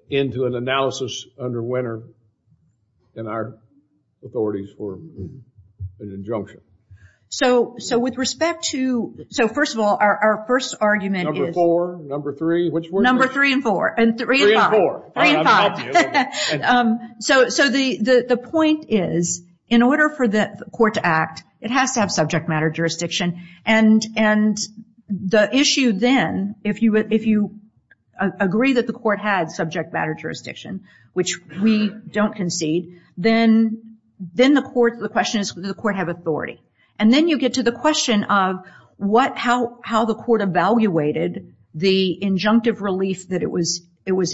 into an analysis under when are in our authorities for an injunction? So with respect to, so first of all, our first argument is- Number four, number three, which one? Number three and four. And three and five. Three and four. Three and five. So the point is, in order for the court to act, it has to have subject matter jurisdiction. And the issue then, if you agree that the court had subject matter jurisdiction, which we don't concede, then the question is, does the court have authority? And then you get to the question of how the court evaluated the injunctive relief that it was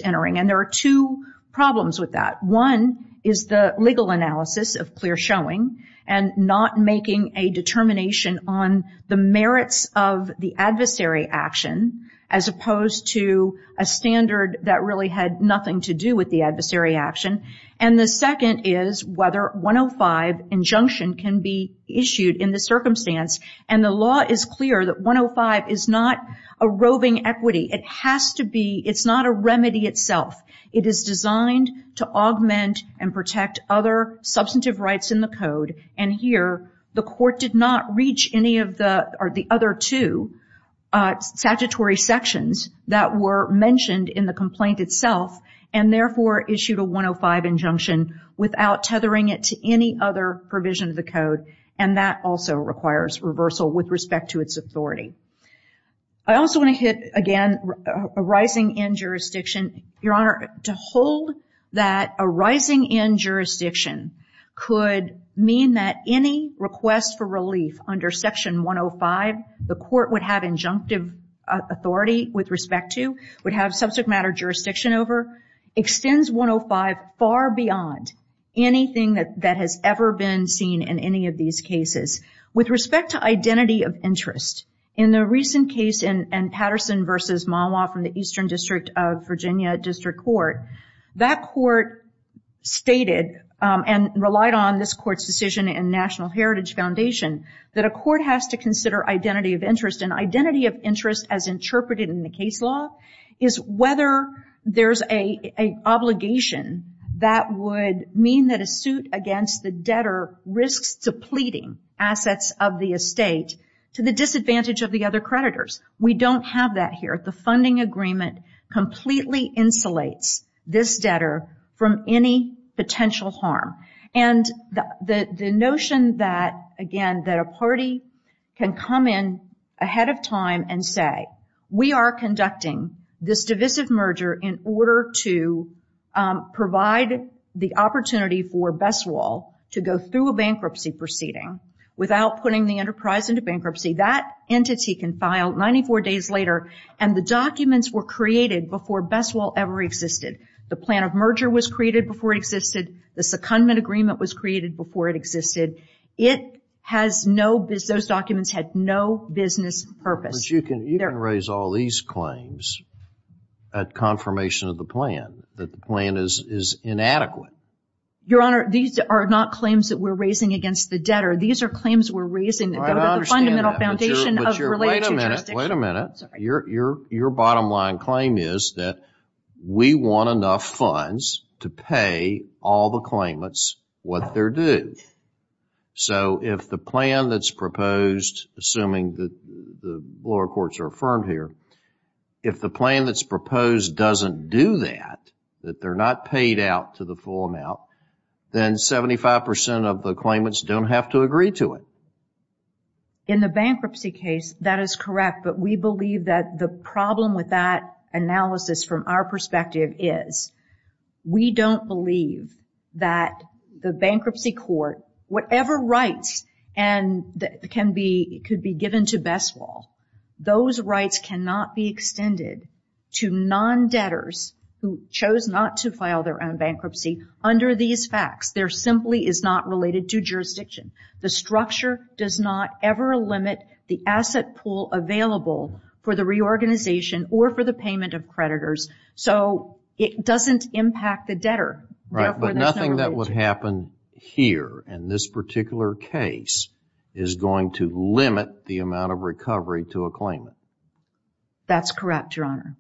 entering. And there are two problems with that. One is the legal analysis of clear showing and not making a determination on the merits of the adversary action as opposed to a standard that really had nothing to do with the adversary action. And the second is whether 105 injunction can be issued in the circumstance. And the law is clear that 105 is not a roving equity. It has to be, it's not a remedy itself. It is designed to augment and protect other substantive rights in the code. And here, the court did not reach any of the, or the other two statutory sections that were mentioned in the complaint itself, and therefore issued a 105 injunction without tethering it to any other provision of the code. And that also requires reversal with respect to its authority. I also want to hit, again, a rising end jurisdiction. Your Honor, to hold that a rising end jurisdiction could mean that any request for relief under section 105, the court would have injunctive authority with respect to, would have subject matter jurisdiction over, extends 105 far beyond anything that has ever been seen in any of these cases. With respect to identity of interest, in the recent case in Patterson v. Malwa from the Virginia District Court, that court stated, and relied on this court's decision and National Heritage Foundation, that a court has to consider identity of interest. And identity of interest, as interpreted in the case law, is whether there's an obligation that would mean that a suit against the debtor risks depleting assets of the estate to the disadvantage of the other creditors. We don't have that here. The funding agreement completely insulates this debtor from any potential harm. And the notion that, again, that a party can come in ahead of time and say, we are conducting this divisive merger in order to provide the opportunity for Besswall to go through a bankruptcy proceeding without putting the enterprise into bankruptcy. That entity can file 94 days later, and the documents were created before Besswall ever existed. The plan of merger was created before it existed. The secondment agreement was created before it existed. It has no business, those documents had no business purpose. But you can raise all these claims at confirmation of the plan, that the plan is inadequate. Your Honor, these are not claims that we're raising against the debtor. These are claims we're raising that go to the fundamental foundation of related jurisdiction. Wait a minute. Your bottom line claim is that we want enough funds to pay all the claimants what they're due. So, if the plan that's proposed, assuming that the lower courts are affirmed here, if the plan that's proposed doesn't do that, that they're not paid out to the full amount, then 75% of the claimants don't have to agree to it. In the bankruptcy case, that is correct, but we believe that the problem with that analysis from our perspective is we don't believe that the bankruptcy court, whatever rights could be given to Besswall, those rights cannot be extended to non-debtors who chose not to file their own bankruptcy under these facts. There simply is not related to jurisdiction. The structure does not ever limit the asset pool available for the reorganization or for the payment of creditors. So, it doesn't impact the debtor. Right, but nothing that would happen here in this particular case is going to limit the amount of recovery to a claimant. That's correct, Your Honor.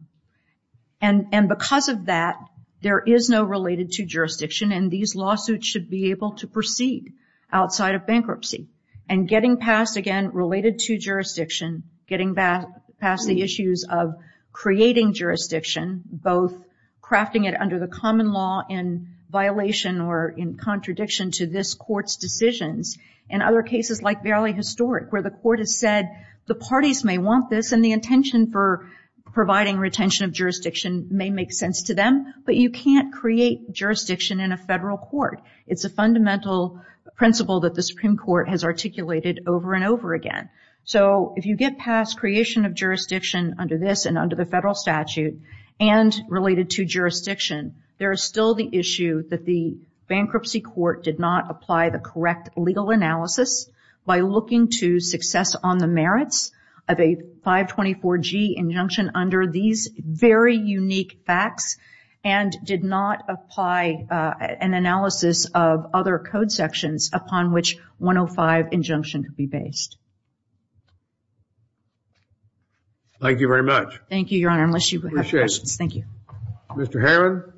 And because of that, there is no related to jurisdiction, and these lawsuits should be able to proceed outside of bankruptcy. And getting past, again, related to jurisdiction, getting back past the issues of creating jurisdiction, both crafting it under the common law in violation or in contradiction to this court's decisions, and other cases like Verily Historic, where the court has said, the parties may want this and the intention for providing retention of jurisdiction may make sense to them, but you can't create jurisdiction in a federal court. It's a fundamental principle that the Supreme Court has articulated over and over again. So, if you get past creation of jurisdiction under this and under the federal statute and related to jurisdiction, there is still the issue that the bankruptcy court did not apply the correct legal analysis by looking to success on the merits of a 524G injunction under these very unique facts and did not apply an analysis of other code sections upon which 105 injunction could be based. Thank you very much. Thank you, Your Honor, unless you have questions. Thank you. Mr. Herrmann.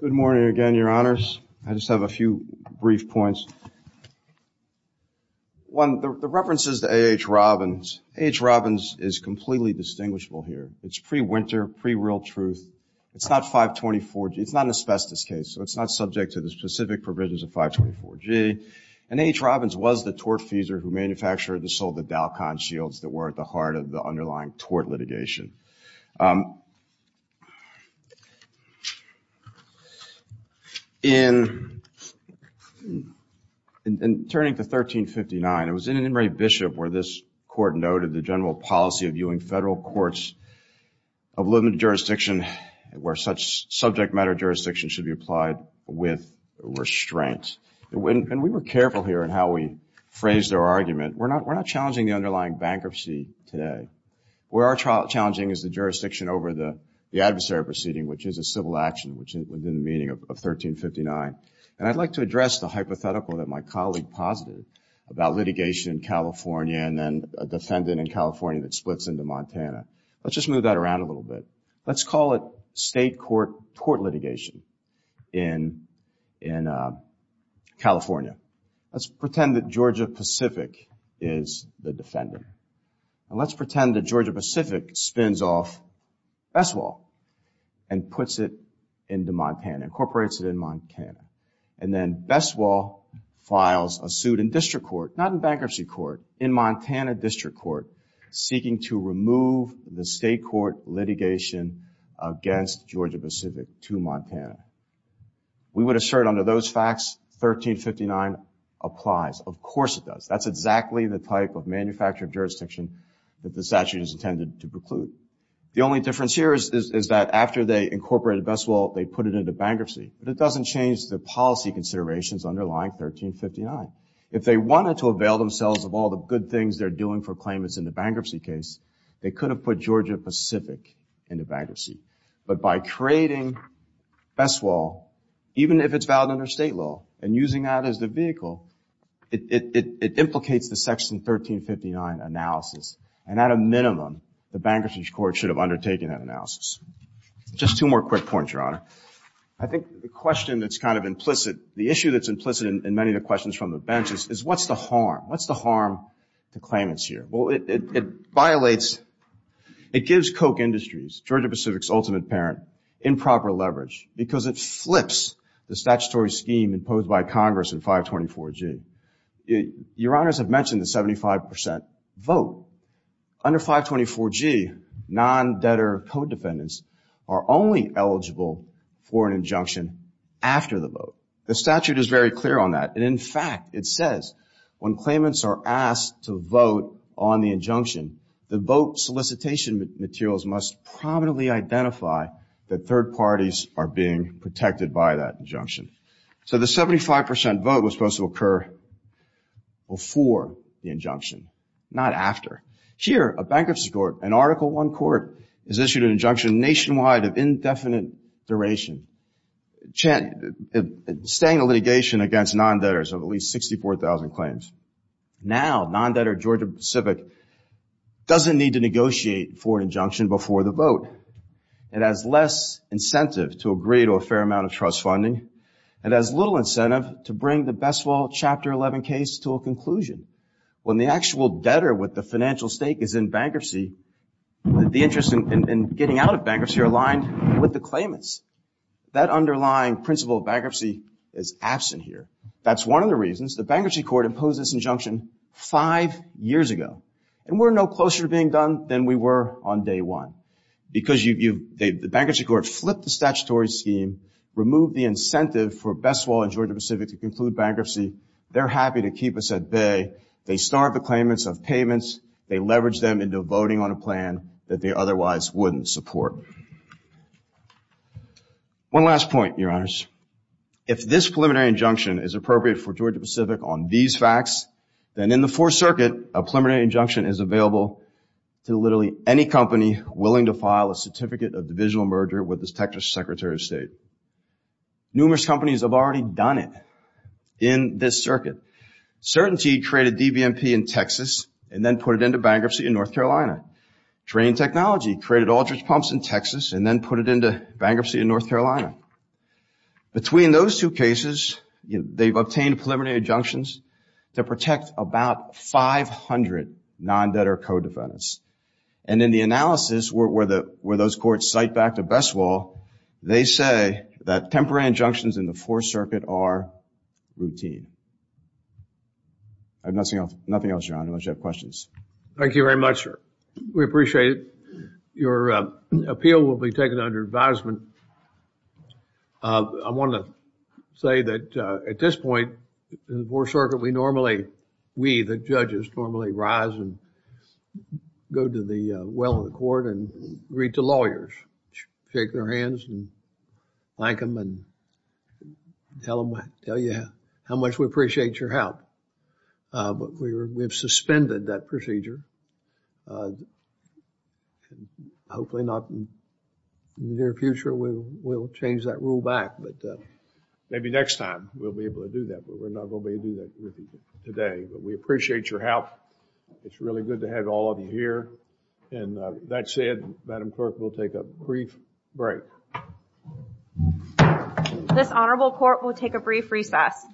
Good morning again, Your Honors. I just have a few brief points. One, the reference is to A.H. Robbins. A.H. Robbins is completely distinguishable here. It's pre-winter, pre-real truth. It's not 524G. It's not an asbestos case, so it's not subject to the specific provisions of 524G. And A.H. Robbins was the tortfeasor who manufactured and sold the DALCON shields that were at the heart of the underlying tort litigation. In turning to 1359, it was in an enumerated bishop where this court noted the general policy of viewing federal courts of limited jurisdiction where such subject matter jurisdiction should be applied with restraint. And we were careful here in how we phrased our argument. We're not challenging the underlying bankruptcy today. We are challenging the underlying bankruptcy. Challenging is the jurisdiction over the adversary proceeding, which is a civil action, which is within the meaning of 1359. And I'd like to address the hypothetical that my colleague posited about litigation in California and then a defendant in California that splits into Montana. Let's just move that around a little bit. Let's call it state court tort litigation in California. Let's pretend that Georgia Pacific is the defender. And let's pretend that Georgia Pacific spins off BestWall and puts it into Montana, incorporates it in Montana. And then BestWall files a suit in district court, not in bankruptcy court, in Montana district court, seeking to remove the state court litigation against Georgia Pacific to Montana. We would assert under those facts, 1359 applies. Of course it does. That's exactly the type of manufactured jurisdiction that the statute is intended to preclude. The only difference here is that after they incorporated BestWall, they put it into bankruptcy. But it doesn't change the policy considerations underlying 1359. If they wanted to avail themselves of all the good things they're doing for claimants in the bankruptcy case, they could have put Georgia Pacific into bankruptcy. But by creating BestWall, even if it's valid under state law and using that as the vehicle, it implicates the section 1359 analysis. And at a minimum, the bankruptcy court should have undertaken that analysis. Just two more quick points, Your Honor. I think the question that's kind of implicit, the issue that's implicit in many of the questions from the bench is what's the harm? What's the harm to claimants here? Well, it violates, it gives Koch Industries, Georgia Pacific's ultimate parent, improper leverage because it flips the statutory scheme imposed by Congress in 524G. Your Honors have mentioned the 75% vote. Under 524G, non-debtor code defendants are only eligible for an injunction after the vote. The statute is very clear on that. And in fact, it says when claimants are asked to vote on the injunction, the vote solicitation materials must prominently identify that third parties are being protected by that injunction. So the 75% vote was supposed to occur before the injunction, not after. Here, a bankruptcy court, an Article I court, has issued an injunction nationwide of indefinite duration, staying the litigation against non-debtors of at least 64,000 claims. Now, non-debtor Georgia Pacific doesn't need to negotiate for an injunction before the vote. It has less incentive to agree to a fair amount of trust funding. It has little incentive to bring the Besswell Chapter 11 case to a conclusion. When the actual debtor with the financial stake is in bankruptcy, the interest in getting out of bankruptcy are aligned with the claimants. That underlying principle of bankruptcy is absent here. That's one of the reasons the bankruptcy court imposed this injunction five years ago. And we're no closer to being done than we were on day one. Because the bankruptcy court flipped the statutory scheme, removed the incentive for Besswell and Georgia Pacific to conclude bankruptcy. They're happy to keep us at bay. They starve the claimants of payments. They leverage them into voting on a plan that they otherwise wouldn't support. One last point, Your Honors. If this preliminary injunction is appropriate for Georgia Pacific on these facts, then in the Fourth Circuit, a preliminary injunction is available to literally any company willing to file a Certificate of Divisional Merger with the Secretary of State. Numerous companies have already done it in this circuit. Certainty created DVMP in Texas and then put it into bankruptcy in North Carolina. Drain Technology created Aldridge Pumps in Texas and then put it into bankruptcy in North Carolina. Between those two cases, they've obtained preliminary injunctions to protect about 500 non-debtor co-defendants. And in the analysis where those courts cite back to Besswell, they say that temporary injunctions in the Fourth Circuit are routine. I have nothing else, Your Honor, unless you have questions. Thank you very much, sir. We appreciate it. Your appeal will be taken under advisement. Uh, I want to say that, uh, at this point, in the Fourth Circuit, we normally, we, the judges, normally rise and go to the, uh, well in the court and greet the lawyers. Shake their hands and thank them and tell them, tell you how much we appreciate your help. Uh, but we were, we've suspended that procedure. Uh, hopefully not in the near future, we'll, we'll change that rule back. But, uh, maybe next time we'll be able to do that. But we're not going to be able to do that today. But we appreciate your help. It's really good to have all of you here. And, uh, that said, Madam Clerk, we'll take a brief break. This honorable court will take a brief recess.